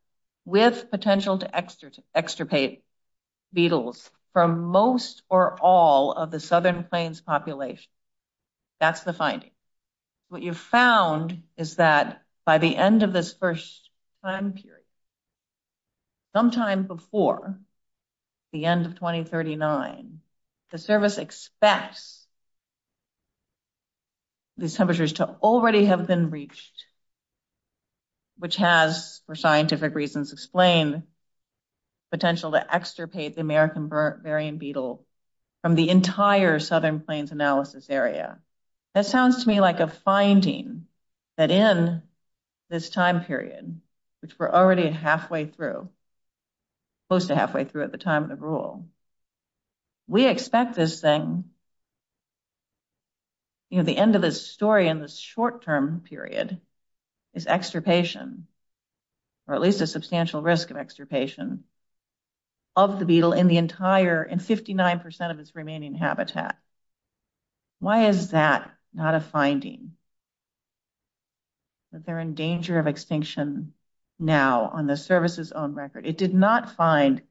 with potential to extirpate beetles from most or all of the Southern Plains population. That's the finding. What you've found is that by the end of this first time period, sometime before the end of 2039, the service expects these temperatures to already have been reached, which has, for scientific reasons, explained the potential to extirpate the American varying beetle from the entire Southern Plains analysis area. That sounds to me like a finding that in this time period, which we're already halfway through, close to halfway through at the time of the rule, we expect this thing, at the end of this story in this short-term period, is extirpation, or at least a substantial risk of extirpation, of the beetle in the entire, in 59% of its remaining habitat. Why is that not a finding? Because they're in danger of extinction now on the service's own record. It did not find,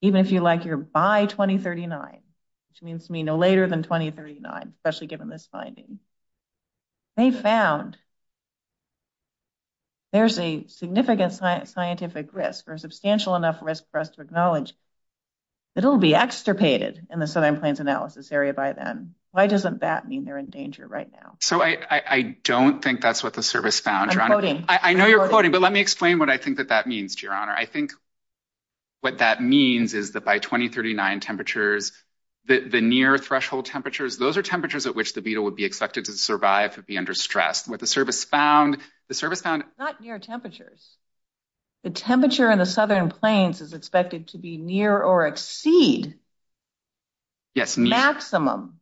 even if you're by 2039, which means to me no later than 2039, especially given this finding. They found there's a significant scientific risk, or a substantial enough risk for us to acknowledge, that it'll be extirpated in the Southern Plains analysis area by then. Why doesn't that mean they're in danger right now? So I don't think that's what the service found, Your Honor. I know you're quoting, but let me explain what I think that that means, Your Honor. I think what that means is that by 2039 temperatures, the near-threshold temperatures, those are temperatures at which the beetle would be expected to survive, to be under stress. What the service found, the service found... Not near temperatures. The temperature in the Southern Plains is expected to be near or exceed maximum,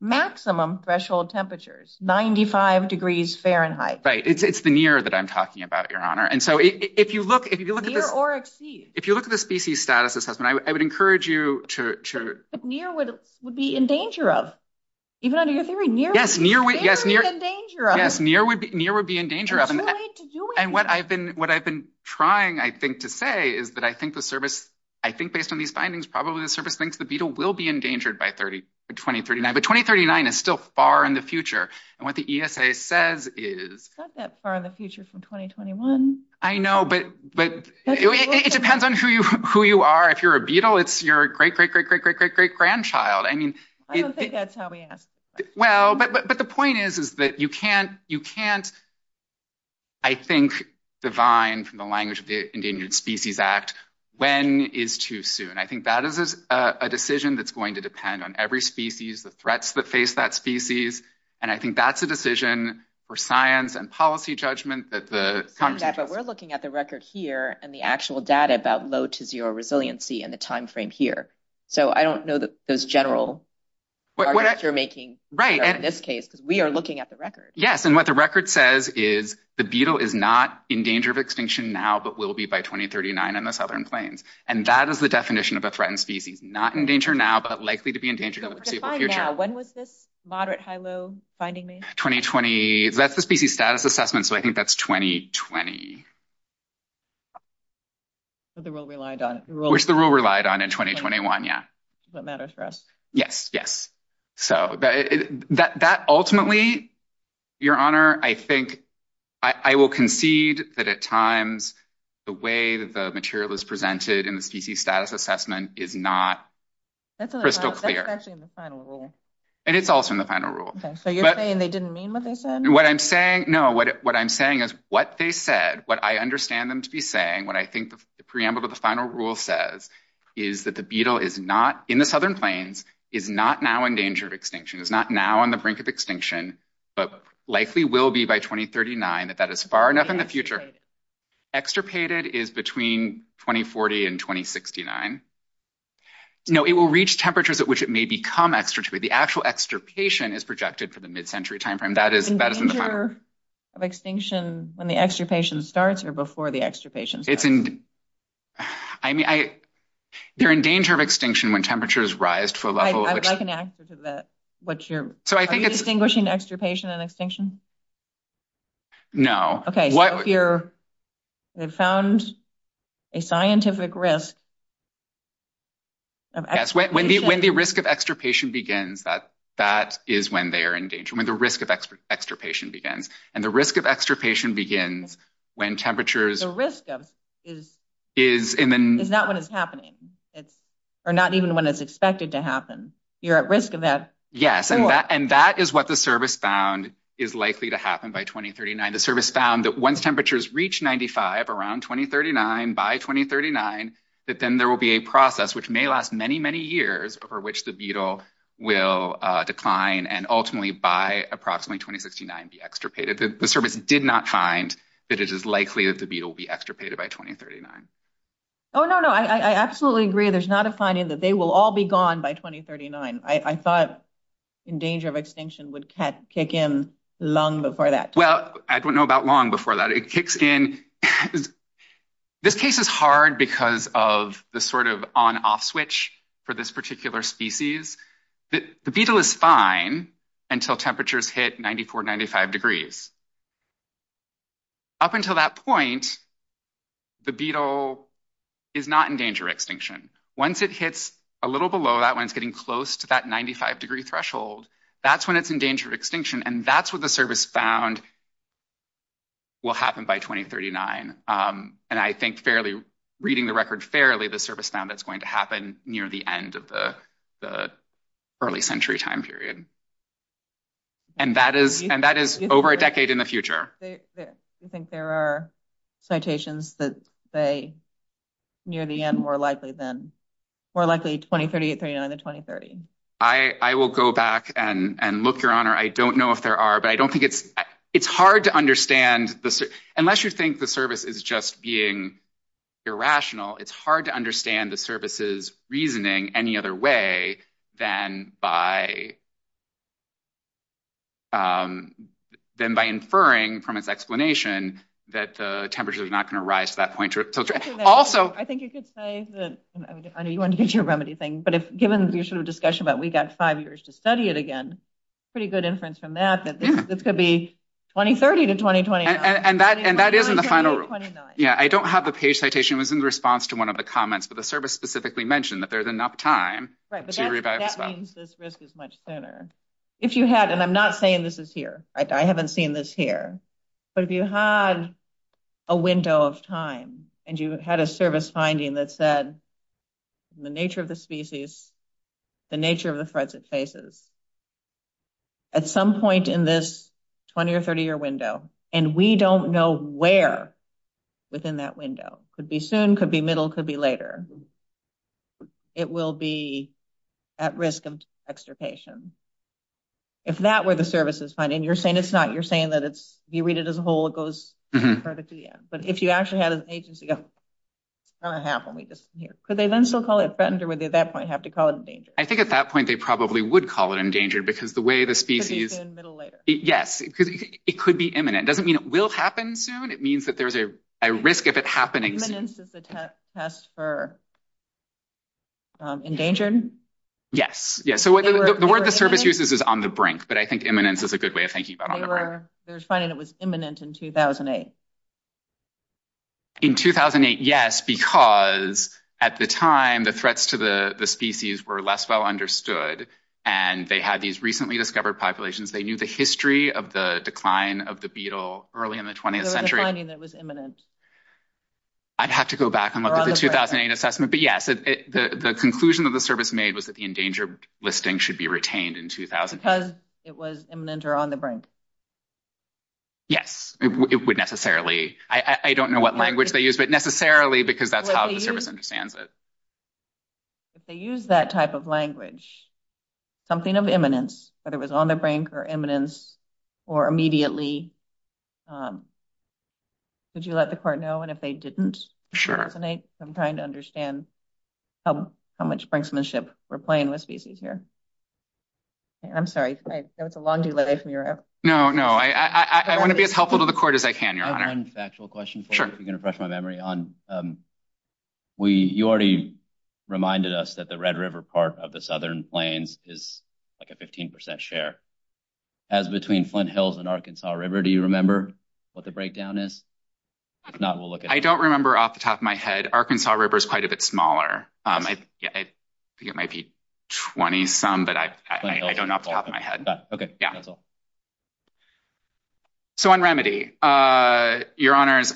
maximum threshold temperatures, 95 degrees Fahrenheit. Right. It's the near that I'm talking about, Your Honor. And so if you look... Near or exceed. If you look at the species status assessment, I would encourage you to... But near would be in danger of. Even under your theory, near would be in danger of. Yes, near would be in danger of. And what I've been trying, I think, to say is that I think the service, I think based on these findings, probably the service thinks the beetle will be endangered by 2039, but 2039 is still far in the future. And what the ESA says is... It's not that far in the future from 2021. I know, but it depends on who you are. If you're a beetle, it's your great, great, great, great, great, great, great grandchild. I don't think that's how we ask questions. Well, but the point is, is that you can't, I think, divine from the language of the Endangered Species Act when is too soon. I think that is a decision that's going to depend on every species, the threats that face that species. And I think that's a decision for science and policy judgment. But we're looking at the record here and the actual data about low to zero resiliency in the timeframe here. So I don't know that those general arguments you're making, but in this case, we are looking at the record. Yes, and what the record says is the beetle is not in danger of extinction now, but will be by 2039 in the Southern Plains. And that is the definition of a threatened species. Not in danger now, but likely to be in danger in the foreseeable future. When was this moderate high-low finding made? 2020. That's the Species Status Assessment, so I think that's 2020. Which the rule relied on in 2021, yeah. Does that matter for us? Yes, yes. So that ultimately, Your Honor, I think I will concede that at times the way the material is presented in the Species Status Assessment is not crystal clear. That's actually in the final rule. And it's also in the final rule. So you're saying they didn't mean what they said? No, what I'm saying is what they said, what I understand them to be saying, what I think the preamble to the final rule says, is that the beetle is not in the Southern Plains, is not now in danger of extinction. It's not now on the brink of extinction, but likely will be by 2039, if that is far enough in the future. Extirpated is between 2040 and 2069. It will reach temperatures at which it may become extirpated. The actual extirpation is projected for the mid-century timeframe. Is it in danger of extinction when the extirpation starts or before the extirpation starts? I mean, they're in danger of extinction when temperatures rise to a level. I can access that. Are you distinguishing extirpation and extinction? No. Okay, so if you found a scientific risk of extirpation. Yes, when the risk of extirpation begins, that is when they are in danger, when the risk of extirpation begins. And the risk of extirpation begins when temperatures... The risk is not when it's happening, or not even when it's expected to happen. You're at risk of that. Yes, and that is what the service found is likely to happen by 2039. The service found that once temperatures reach 95 around 2039, by 2039, that then there will be a process which may last many, many years for which the beetle will decline and ultimately by approximately 2069 be extirpated. The service did not find that it is likely that the beetle will be extirpated by 2039. Oh, no, no, I absolutely agree. There's not a finding that they will all be gone by 2039. I thought in danger of extinction would kick in long before that. Well, I don't know about long before that. It kicks in... This case is hard because of the sort of on-off switch for this particular species. The beetle is fine until temperatures hit 94, 95 degrees. Up until that point, the beetle is not in danger of extinction. Once it hits a little below that, when it's getting close to that 95-degree threshold, that's when it's in danger of extinction, and that's when the service found will happen by 2039. And I think reading the record fairly, the service found is going to happen near the end of the early century time period. And that is over a decade in the future. Do you think there are citations that say near the end, more likely 2039 than 2030? I will go back and look, Your Honor. I don't know if there are, but I don't think it's... It's hard to understand. Unless you think the service is just being irrational, it's hard to understand the service's reasoning any other way than by inferring from its explanation that temperature is not going to rise to that point. I think you could say that... I know you want to get your remedy thing. But given your sort of discussion about we've got five years to study it again, pretty good inference from that that this could be 2030 to 2029. And that is in the final rule. Yeah, I don't have the page citation. It was in response to one of the comments. But the service specifically mentioned that there's enough time to revive itself. Right, but that means this risk is much sooner. If you had, and I'm not saying this is here. I haven't seen this here. But if you had a window of time and you had a service finding that said the nature of the species, the nature of the threats it faces, at some point in this 20 or 30 year window, and we don't know where within that window, could be soon, could be middle, could be later, it will be at risk of extirpation. If that were the services finding, you're saying it's not, you're saying that it's, if you read it as a whole, it goes further to the end. But if you actually had an agency of... Could they then still call it threatened or would they at that point have to call it endangered? I think at that point they probably would call it endangered because the way the species... It could be soon, middle, later. Yes, it could be imminent. It doesn't mean it will happen soon. It means that there's a risk of it happening. Imminence is the test for endangering? Yes. The word the service uses is on the brink, but I think imminence is a good way of thinking about it. They were finding it was imminent in 2008. In 2008, yes, because at the time the threats to the species were less well understood and they had these recently discovered populations. They knew the history of the decline of the beetle early in the 20th century. They were finding it was imminent. I'd have to go back and look at the 2008 assessment. But, yes, the conclusion of the service made was that the endangered listing should be retained in 2008. Because it was imminent or on the brink. Yes, it would necessarily. I don't know what language they used, but necessarily because that's how the service understands it. If they used that type of language, something of imminence, whether it was on the brink or imminence or immediately, would you let the court know? And if they didn't, I'm trying to understand how much brinksmanship we're playing with species here. I'm sorry. That was a long delay from your end. No, no. I want to be as helpful to the court as I can, Your Honor. Can I ask one factual question? Sure. If you can refresh my memory. You already reminded us that the Red River part of the Southern Plains is like a 15% share. As between Flint Hills and Arkansas River, do you remember what the breakdown is? I don't remember off the top of my head. Arkansas River is quite a bit smaller. I think it might be 20-some, but I don't know off the top of my head. Okay. So on remedy, Your Honors,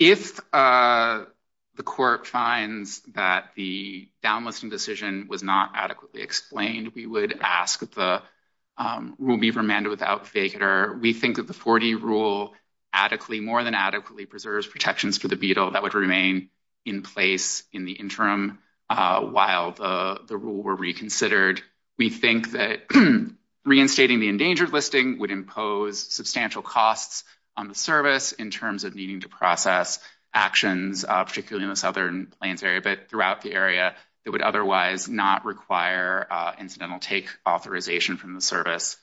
if the court finds that the downlisting decision was not adequately explained, we would ask that the rule be remanded without failure. We think that the 40 rule adequately, more than adequately, preserves protections for the beetle that would remain in place in the interim while the rule were reconsidered. We think that reinstating the endangered listing would impose substantial costs on the service in terms of needing to process actions, particularly in the Southern Plains area, but throughout the area that would otherwise not require incidental take authorization from the service.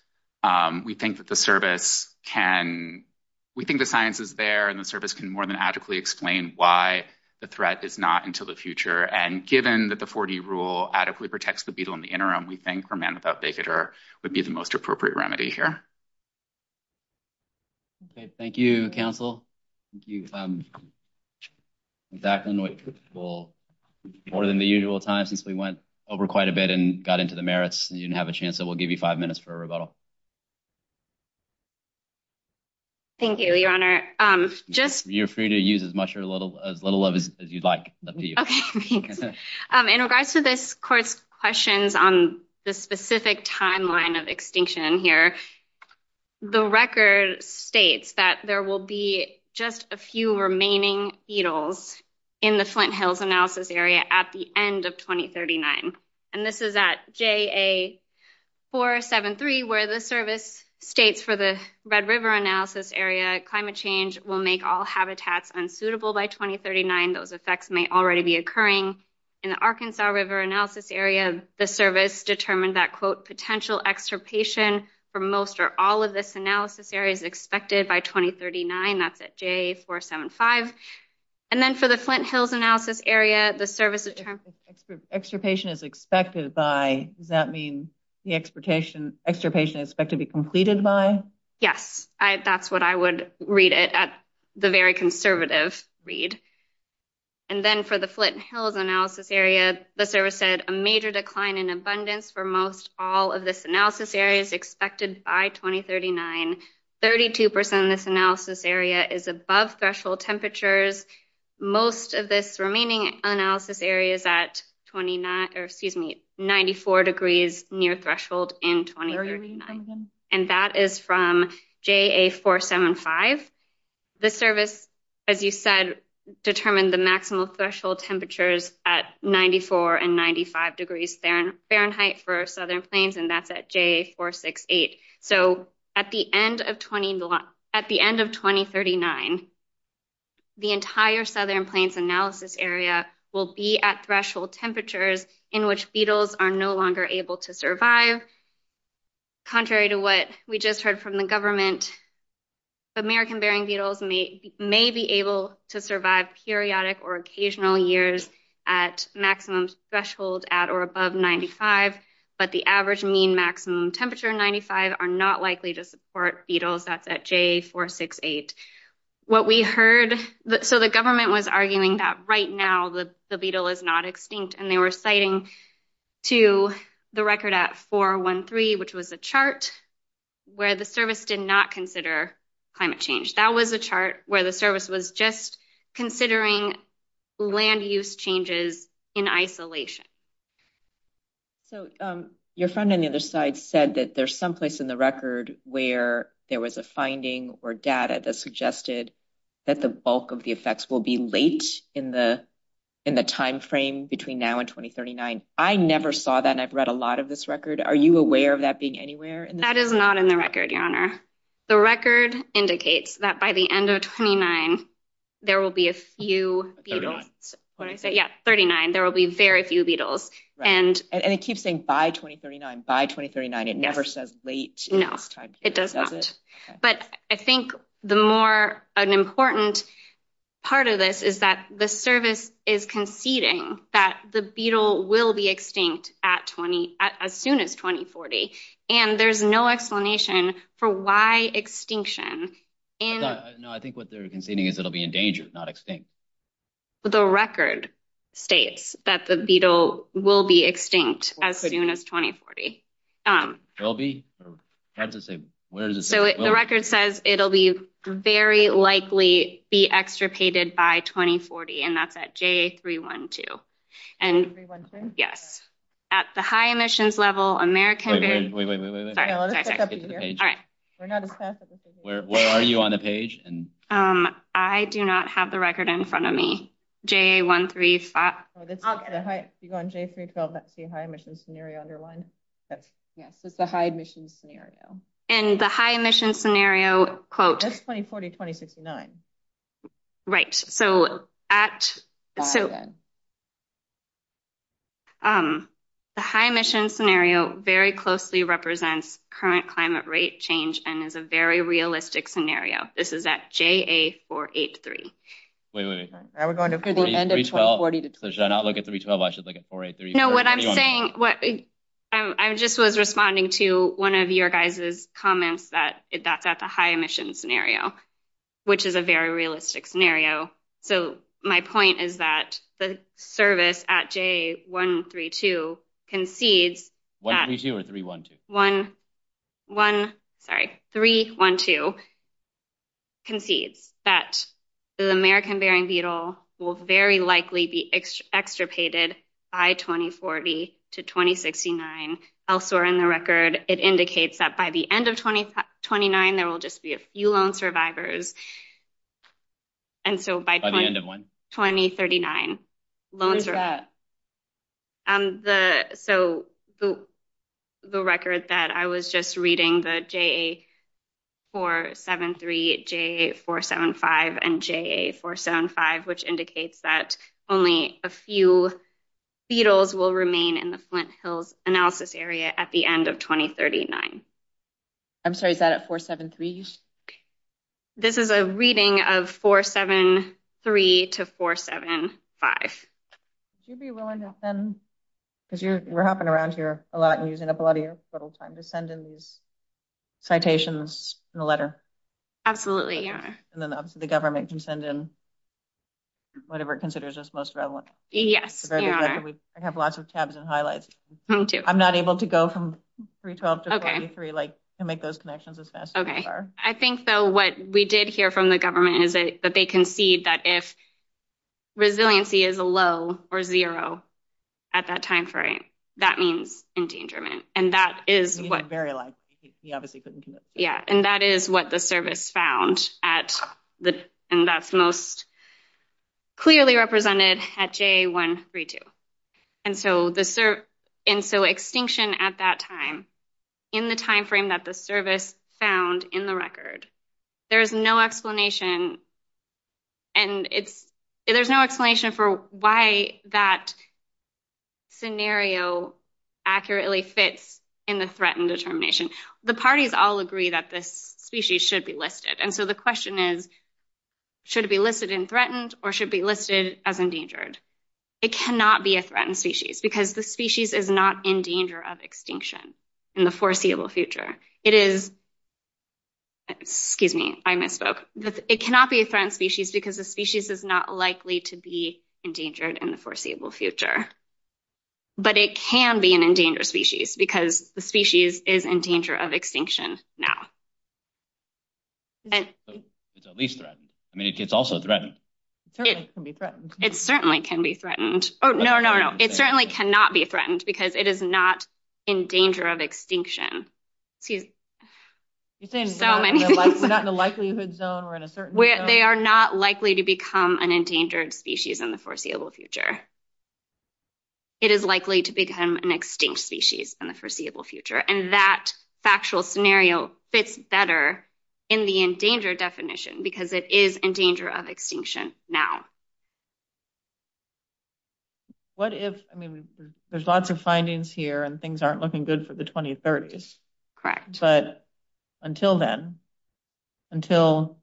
We think that the service can, we think the science is there, and the service can more than adequately explain why the threat is not until the future. And given that the 40 rule adequately protects the beetle in the interim, we think remand without failure would be the most appropriate remedy here. Thank you, counsel. Thank you, Zach. I know it will be more than the usual time since we went over quite a bit and got into the merits, and you didn't have a chance, so we'll give you five minutes for a rebuttal. Thank you, Your Honor. You're free to use as much or as little of it as you'd like. Okay, thanks. In regards to this court's questions on the specific timeline of extinction here, the record states that there will be just a few remaining beetles in the Flint Hills analysis area at the end of 2039. And this is at JA473, where the service states for the Red River analysis area, climate change will make all habitats unsuitable by 2039. Those effects may already be occurring. In the Arkansas River analysis area, the service determined that, quote, potential extirpation for most or all of this analysis area is expected by 2039. That's at JA475. And then for the Flint Hills analysis area, the service determines that extirpation is expected by. Does that mean the extirpation is expected to be completed by? Yes. That's what I would read it at the very conservative read. And then for the Flint Hills analysis area, the service said a major decline in abundance for most all of this analysis area is expected by 2039. 32% of this analysis area is above threshold temperatures. Most of this remaining analysis area is at 94 degrees near threshold in 2039. And that is from JA475. The service, as you said, determined the maximum threshold temperatures at 94 and 95 degrees Fahrenheit for Southern Plains, and that's at JA468. So at the end of 2039, the entire Southern Plains analysis area will be at threshold temperatures in which beetles are no longer able to survive. Contrary to what we just heard from the government, American-bearing beetles may be able to survive periodic or occasional years at maximum thresholds at or above 95, but the average mean maximum temperature in 95 are not likely to support beetles that's at JA468. What we heard, so the government was arguing that right now the beetle is not extinct, and they were citing to the record at 413, which was the chart where the service did not consider climate change. That was the chart where the service was just considering land use changes in isolation. So your friend on the other side said that there's some place in the record where there was a finding or data that suggested that the bulk of the effects will be late in the timeframe between now and 2039. I never saw that, and I've read a lot of this record. Are you aware of that being anywhere? That is not in the record, Your Honor. The record indicates that by the end of 2039, there will be a few beetles. Yeah, 39. There will be very few beetles. And it keeps saying by 2039, by 2039. It never says late. No, it does not. But I think the more important part of this is that the service is conceding that the beetle will be extinct as soon as 2040, and there's no explanation for why extinction. No, I think what they're conceding is it'll be endangered, not extinct. The record states that the beetle will be extinct as soon as 2040. The record says it'll be very likely be extirpated by 2040, and that's at JA312. At the high emissions level, America is ‑‑ Wait, wait, wait, wait, wait. All right. Where are you on the page? I do not have the record in front of me, JA135. You're on JA312. That's the high emissions scenario underlined. Yes, it's the high emissions scenario. And the high emissions scenario, quote ‑‑ That's 2040, 2069. Right. So at ‑‑ So the high emissions scenario very closely represents current climate rate change and is a very realistic scenario. This is at JA483. Wait, wait, wait, wait. So should I not look at 312? I should look at 483? No, what I'm saying ‑‑ I just was responding to one of your guys' comments that that's a high emissions scenario, which is a very realistic scenario. So my point is that the service at JA132 concedes that ‑‑ 132 or 312? Sorry, 312 concedes that the American Bering Beetle will very likely be extirpated by 2040 to 2069. Elsewhere in the record, it indicates that by the end of 2029, there will just be a few lone survivors. By the end of when? 2039. When is that? So the record that I was just reading, the JA473, JA475, and JA475, which indicates that only a few beetles will remain in the Flint Hills analysis area at the end of 2039. I'm sorry, is that 473? This is a reading of 473 to 475. Would you be willing to send, because you were hopping around here a lot and using up a lot of your little time, to send in these citations in the letter? Absolutely, yeah. And then obviously the government can send in whatever it considers as most relevant. Yes. I have lots of tabs and highlights. Me too. I'm not able to go from 312 to 43 to make those connections as fast as you are. I think, though, what we did hear from the government is that they concede that if resiliency is low or zero at that time frame, that means endangerment. And that is what the service found, and that's most clearly represented at JA132. And so extinction at that time, in the time frame that the service found in the record, there is no explanation for why that scenario accurately fits in the threatened determination. The parties all agree that the species should be listed. And so the question is, should it be listed in threatened or should it be listed as endangered? It cannot be a threatened species because the species is not in danger of extinction in the foreseeable future. It is – excuse me, I misspoke. It cannot be a threatened species because the species is not likely to be endangered in the foreseeable future. But it can be an endangered species because the species is in danger of extinction now. So it's at least threatened. I mean, it's also threatened. It certainly can be threatened. It certainly can be threatened. Oh, no, no, no. It certainly cannot be threatened because it is not in danger of extinction. You're saying it's not in a likelihood zone or in a certain – They are not likely to become an endangered species in the foreseeable future. It is likely to become an extinct species in the foreseeable future. And that factual scenario fits better in the endangered definition because it is in danger of extinction now. What if – I mean, there's lots of findings here and things aren't looking good for the 2030s. Correct. But until then, until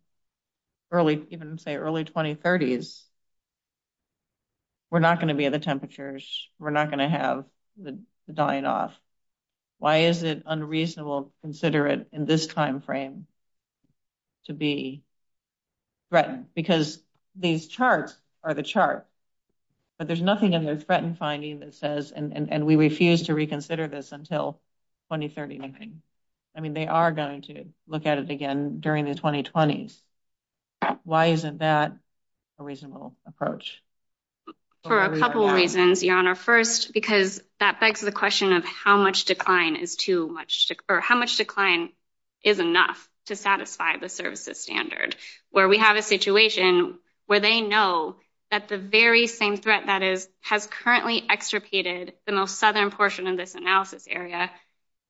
early – even, say, early 2030s, we're not going to be at the temperatures. We're not going to have the dying off. Why is it unreasonable to consider it in this timeframe to be threatened? Because these charts are the chart, but there's nothing in the threatened finding that says, and we refuse to reconsider this until 2039. I mean, they are going to look at it again during the 2020s. Why isn't that a reasonable approach? For a couple reasons, Your Honor. First, because that begs the question of how much decline is too much – or how much decline is enough to satisfy the services standard. Where we have a situation where they know that the very same threat that is – has currently extirpated the most southern portion of this analysis area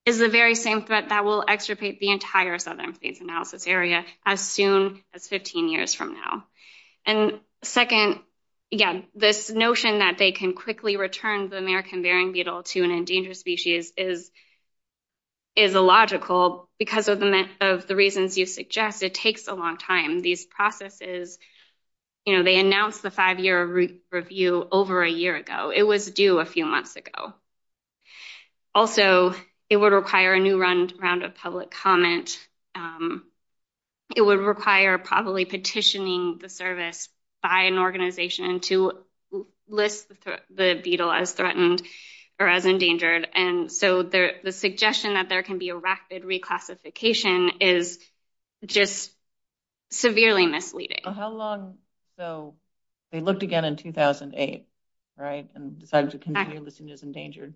is the very same threat that will extirpate the entire southern phase analysis area as soon as 15 years from now. And second, again, this notion that they can quickly return the American Bering beetle to an endangered species is illogical because of the reasons you suggest. It takes a long time. These processes, you know, they announced the five-year review over a year ago. It was due a few months ago. Also, it would require a new round of public comment. It would require probably petitioning the service by an organization to list the beetle as threatened or as endangered. And so the suggestion that there can be a rapid reclassification is just severely misleading. How long – so they looked again in 2008, right, and decided to continue listing it as endangered.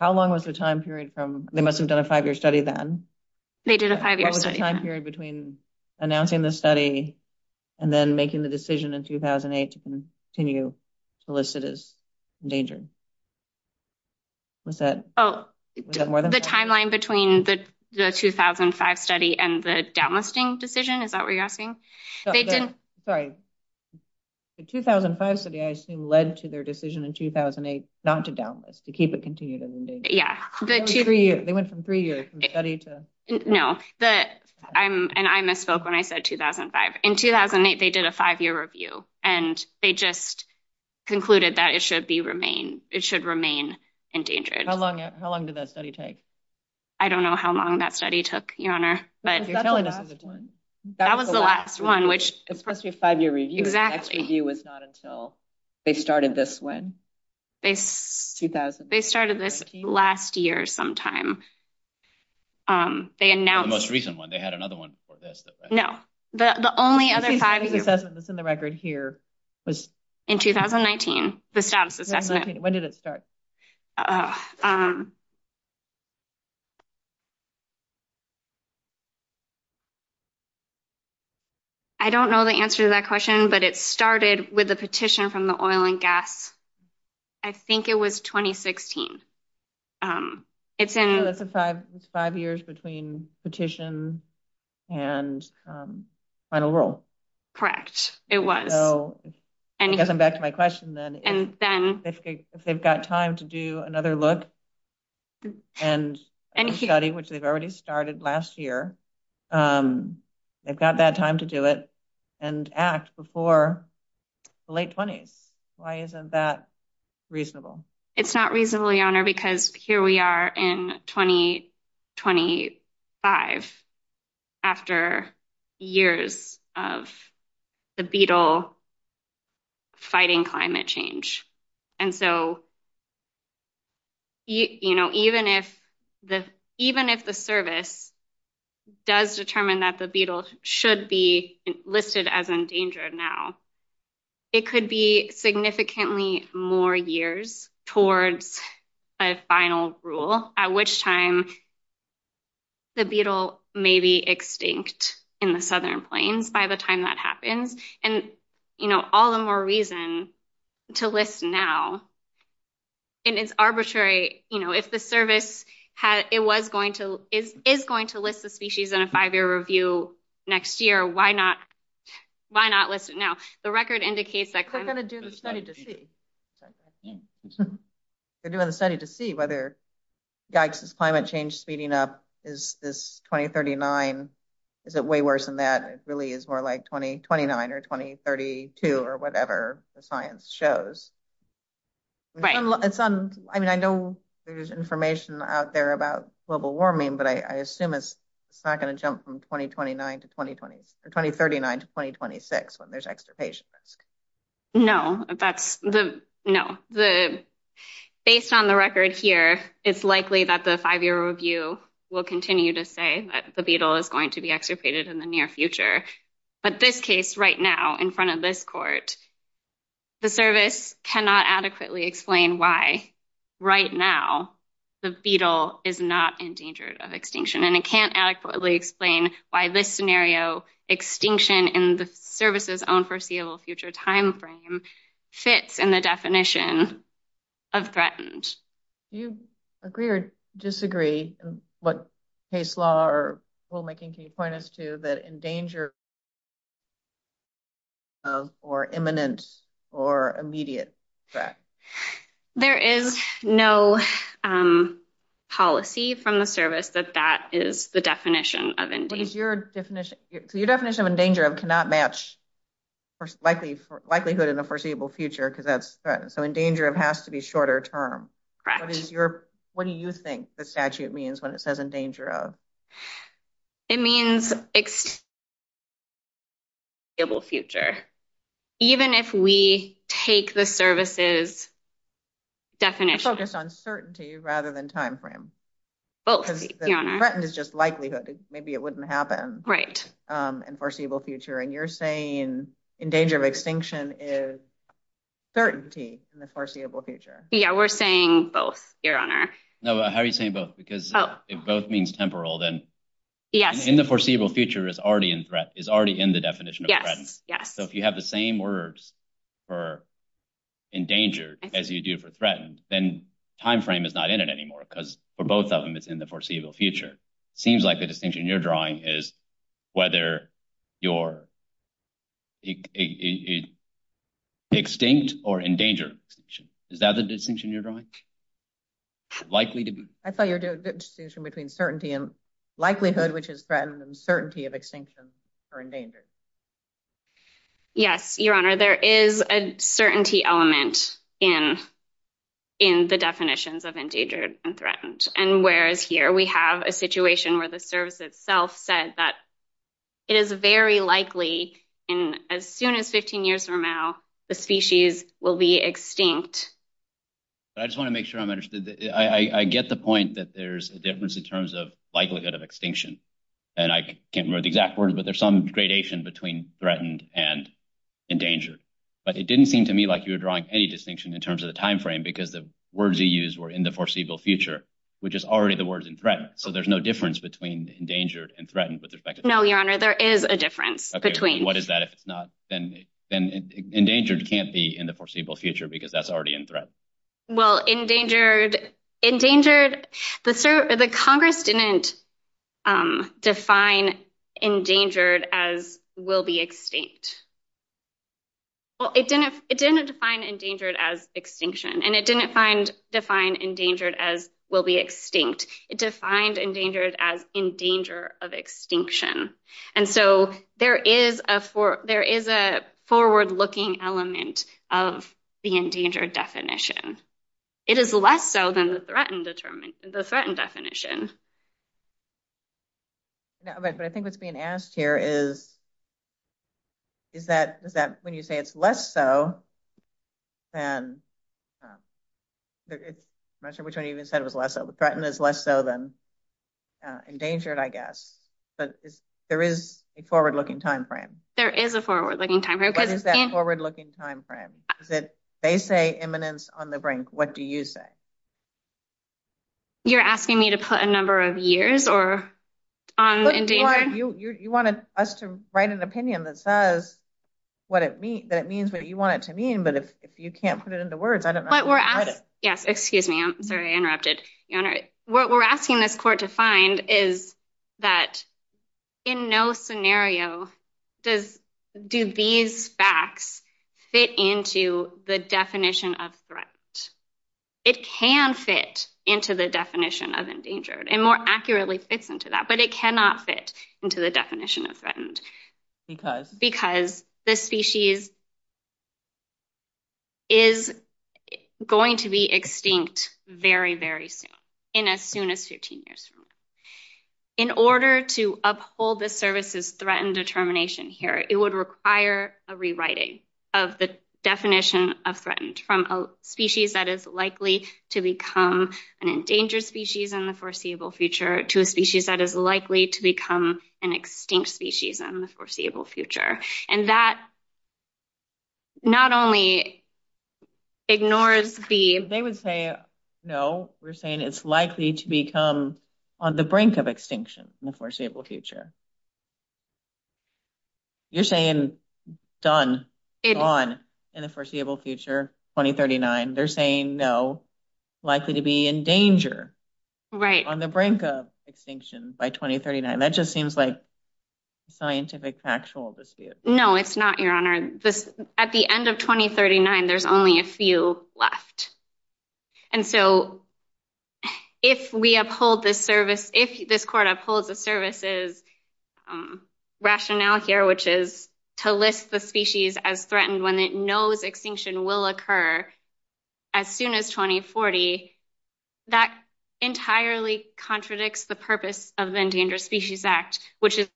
How long was the time period from – they must have done a five-year study then. They did a five-year study. The time period between announcing the study and then making the decision in 2008 to continue to list it as endangered. What's that? Oh, the timeline between the 2005 study and the downlisting decision. Is that what you're asking? Sorry. The 2005 study, I assume, led to their decision in 2008 not to downlist, to keep it continued as endangered. Yeah. They went from three years from study to – No. And I misspoke when I said 2005. In 2008, they did a five-year review, and they just concluded that it should remain endangered. How long did that study take? I don't know how long that study took, Your Honor, but – That was the last one. That was the last one, which – It's a five-year review. Exactly. That review was not until they started this one. They started this last year sometime. They announced – It was the most recent one. They had another one before this. No. The only other five – I think the only assessment that's in the record here was – In 2019, the status assessment. When did it start? I don't know the answer to that question, but it started with a petition from the Oil and Gas – I think it was 2016. It's in – So, it's five years between petition and final rule. Correct. It was. So, I guess I'm back to my question, then. And then – If they've got time to do another look and study, which they've already started last year, they've got that time to do it and act before the late 20s. Why isn't that reasonable? It's not reasonably, Your Honor, because here we are in 2025, after years of the beetle fighting climate change. And so, even if the service does determine that the beetle should be listed as endangered now, it could be significantly more years towards a final rule, at which time the beetle may be extinct in the Southern Plains by the time that happens. And all the more reason to list now. And it's arbitrary. If the service is going to list the species in a five-year review next year, why not list it now? The record indicates that – They're going to do the study to see. They're doing the study to see whether, yikes, is climate change speeding up? Is 2039 – is it way worse than that? It really is more like 2029 or 2032 or whatever the science shows. Right. I mean, I know there's information out there about global warming, but I assume it's not going to jump from 2039 to 2026 when there's extirpation risk. No, that's – no. Based on the record here, it's likely that the five-year review will continue to say that the beetle is going to be extirpated in the near future. But this case, right now, in front of this court, the service cannot adequately explain why, right now, the beetle is not in danger of extinction. And it can't adequately explain why this scenario, extinction in the service's own foreseeable future timeframe, fits in the definition of threatened. Do you agree or disagree, what case law or rulemaking can you point us to, that endanger or imminent or immediate threat? There is no policy from the service that that is the definition of endangered. Your definition of endangered cannot match likelihood in the foreseeable future, so endangered has to be shorter term. Correct. What do you think the statute means when it says endangered? It means extirpated in the foreseeable future. Even if we take the service's definition. I focused on certainty rather than timeframe. Threatened is just likelihood. Maybe it wouldn't happen in the foreseeable future. And you're saying endangered or extinction is certainty in the foreseeable future. Yeah, we're saying both, Your Honor. No, how are you saying both? Because if both means temporal, then in the foreseeable future, is already in the definition of threatened. So if you have the same words for endangered as you do for threatened, then timeframe is not in it anymore because for both of them, it's in the foreseeable future. It seems like the distinction you're drawing is whether you're extinct or endangered. Is that the distinction you're drawing? I thought you were doing the distinction between certainty and likelihood, which is threatened and certainty of extinction or endangered. Yes, Your Honor. There is a certainty element in the definitions of endangered and threatened. And whereas here, we have a situation where the service itself said that it is very likely, as soon as 15 years from now, the species will be extinct. I just want to make sure I'm understood. I get the point that there's a difference in terms of likelihood of extinction. And I can't remember the exact words, but there's some gradation between threatened and endangered. But it didn't seem to me like you were drawing any distinction in terms of the timeframe because the words you used were in the foreseeable future, which is already the words in threat. So there's no difference between endangered and threatened. No, Your Honor. There is a difference between. What is that? then endangered can't be in the foreseeable future because that's already in threat. Well, endangered, the Congress didn't define endangered as will be extinct. It didn't define endangered as extinction, and it didn't define endangered as will be extinct. It defined endangered as in danger of extinction. And so there is a forward-looking element of the endangered definition. It is less so than the threatened definition. But I think what's being asked here is, is that when you say it's less so than, I'm not sure which one you even said was less so, but threatened is less so than endangered, I guess. But there is a forward-looking timeframe. There is a forward-looking timeframe. What is that forward-looking timeframe? They say imminence on the brink. What do you say? You're asking me to put a number of years or. You wanted us to write an opinion that says what it means, that means what you want it to mean, but if you can't put it into words, I don't know. Yes, excuse me. I'm very interrupted. What we're asking this court to find is that in no scenario, do these facts fit into the definition of threat? It can fit into the definition of endangered and more accurately fits into that, but it cannot fit into the definition of threatened. Because? Because the species is going to be extinct very, very soon, in as soon as 15 years from now. In order to uphold the services threatened determination here, it would require a rewriting of the definition of threatened from a species that is likely to become an endangered species in the foreseeable future to a species that is likely to become an extinct species in the foreseeable future. And that not only ignores the. They would say, no, we're saying it's likely to become on the brink of extinction in the foreseeable future. You're saying done on in the foreseeable future, 2039. They're saying no likely to be in danger. Right on the brink of extinction by 2039. That just seems like scientific factual dispute. No, it's not your honor. At the end of 2039, there's only a few left. And so if we uphold this service, if this court upholds the services rationale here, which is to list the species as threatened when it knows extinction will occur as soon as 2040, that entirely contradicts the purpose of the Endangered Species Act, which is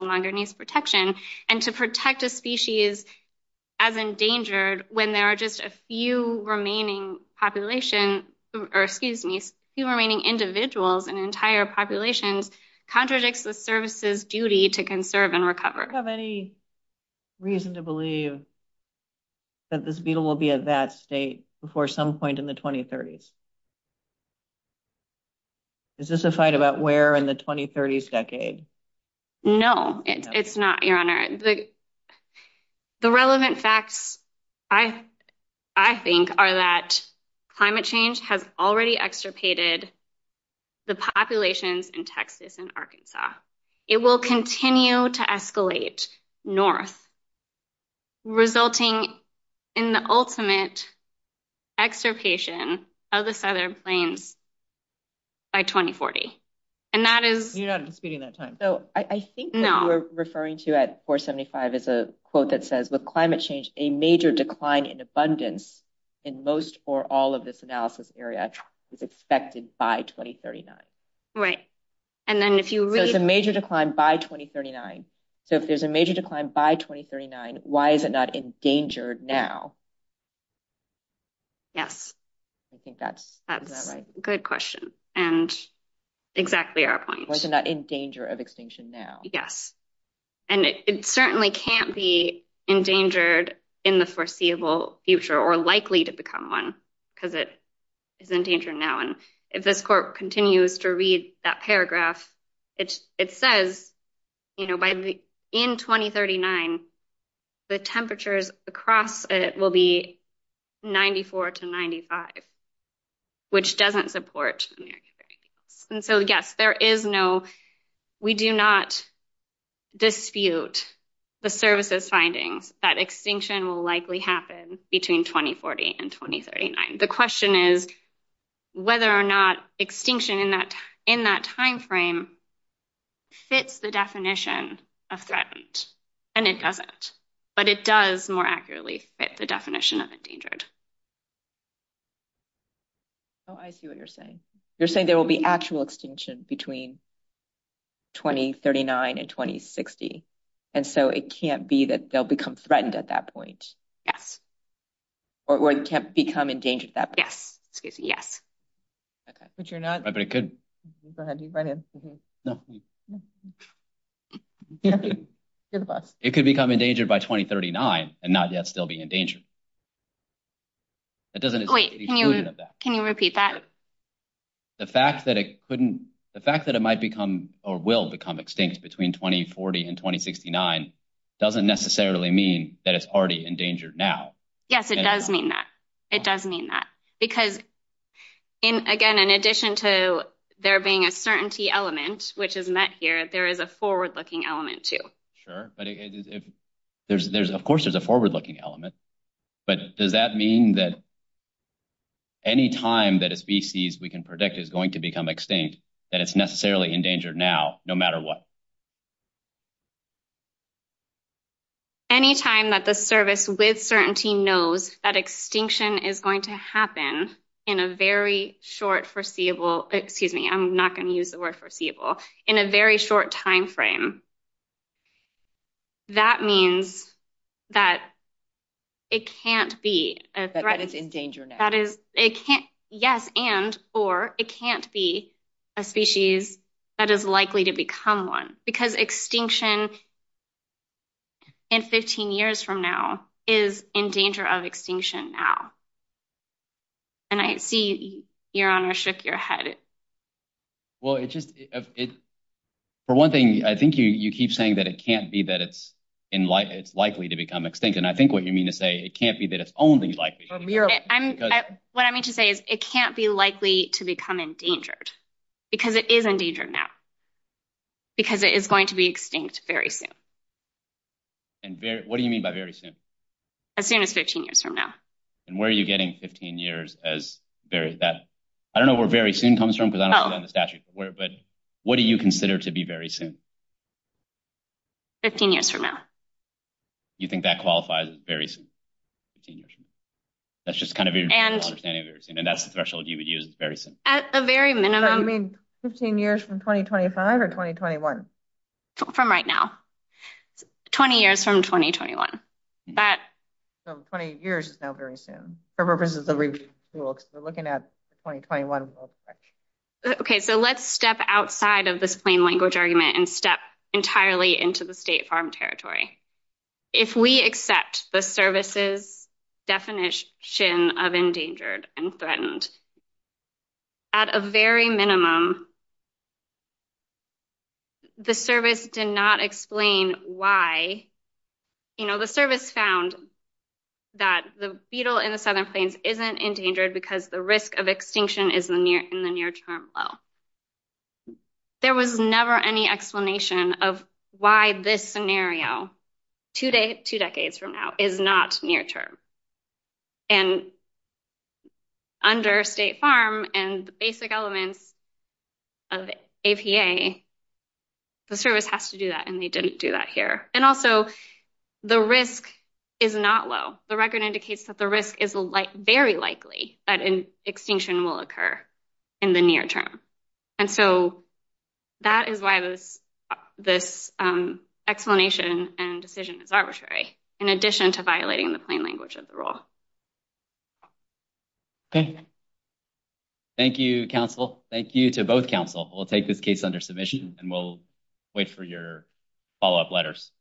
longer needs protection and to protect a endangered when there are just a few remaining population, or excuse me, few remaining individuals and entire populations contradicts the services duty to conserve and recover. Have any reason to believe that this beetle will be at that state before some point in the 2030s? Is this a fight about where in the 2030s decade? No, it's not your honor. The relevant facts, I think are that climate change has already extirpated the population in Texas and Arkansas. It will continue to escalate North resulting in the ultimate extirpation of the Southern Plains by 2040. And that is... You're not disputing that time. So I think what you're referring to at 475 is a quote that says with climate change, a major decline in abundance in most or all of this analysis area is expected by 2039. Right. And then if you read... There's a major decline by 2039. So if there's a major decline by 2039, why is it not endangered now? Yes. I think that's... Good question. And exactly our point. Why is it not in danger of extinction now? Yes. And it certainly can't be endangered in the foreseeable future or likely to become one because it is endangered now. And if this court continues to read that paragraph, it says in 2039, the temperatures across it will be 94 to 95, which doesn't support. And so, yes, there is no... We do not dispute the services finding that extinction will likely happen between 2040 and 2039. The question is whether or not extinction in that timeframe fits the definition of threatened. And it doesn't, but it does more accurately fit the definition of endangered. Oh, I see what you're saying. You're saying there will be actual extinction between 2039 and 2060. And so it can't be that they'll become threatened at that point. Yes. Or it can't become endangered at that point. Yes. Excuse me. Yes. But you're not... But it could. Go ahead. You run in. No. You're the boss. It could become endangered by 2039 and not yet still be endangered. That doesn't... Wait. Can you repeat that? The fact that it couldn't... The fact that it might become or will become extinct between 2040 and 2069 doesn't necessarily mean that it's already endangered now. Yes. It does mean that. It does mean that. Because, again, in addition to there being a certainty element, which is met here, there is a forward-looking element too. Sure. But of course there's a forward-looking element. But does that mean that any time that a species we can predict is going to become extinct, that it's necessarily endangered now, no matter what? Any time that the service with certainty knows that extinction is going to happen in a very short foreseeable... Excuse me. I'm not going to use the word foreseeable. In a very short timeframe. That means that it can't be a threat. That it's in danger now. Yes. And, or, it can't be a species that is likely to become one. Because extinction in 15 years from now is in danger of extinction now. And I see you're on a shift you're headed. Well, it's just... For one thing, I think you keep saying that it can't be that it's likely to become extinct. And I think what you mean to say, it can't be that it's only likely. What I mean to say is it can't be likely to become endangered. Because it is endangered now. Because it is going to be extinct very soon. And what do you mean by very soon? As soon as 15 years from now. And where are you getting 15 years as that? I don't know where very soon comes from because I don't know the statute. But what do you consider to be very soon? 15 years from now. You think that qualifies as very soon? That's just kind of your understanding. And that's the threshold you would use is very soon. At the very minimum. You mean 15 years from 2025 or 2021? From right now. 20 years from 2021. So 20 years is now very soon. For purposes of the ROOF tool. Because we're looking at 2021. Okay, so let's step outside of this plain language argument. And step entirely into the state farm territory. If we accept the services definition of endangered and threatened. At a very minimum. The service did not explain why. You know, the service found. That the beetle in the southern plains isn't endangered because the risk of extinction is in the near term. Well. There was never any explanation of why this scenario. Two decades from now is not near term. And. Under state farm and basic elements. Of APA. The service has to do that and they didn't do that here. And also the risk is not low. The record indicates that the risk is very likely that an extinction will occur. In the near term. And so. That is why I was. This. Explanation and decision is arbitrary. In addition to violating the plain language of the rule. Okay. Thank you, counsel. Thank you to both counsel. We'll take this case under submission and we'll. Wait for your follow-up letters.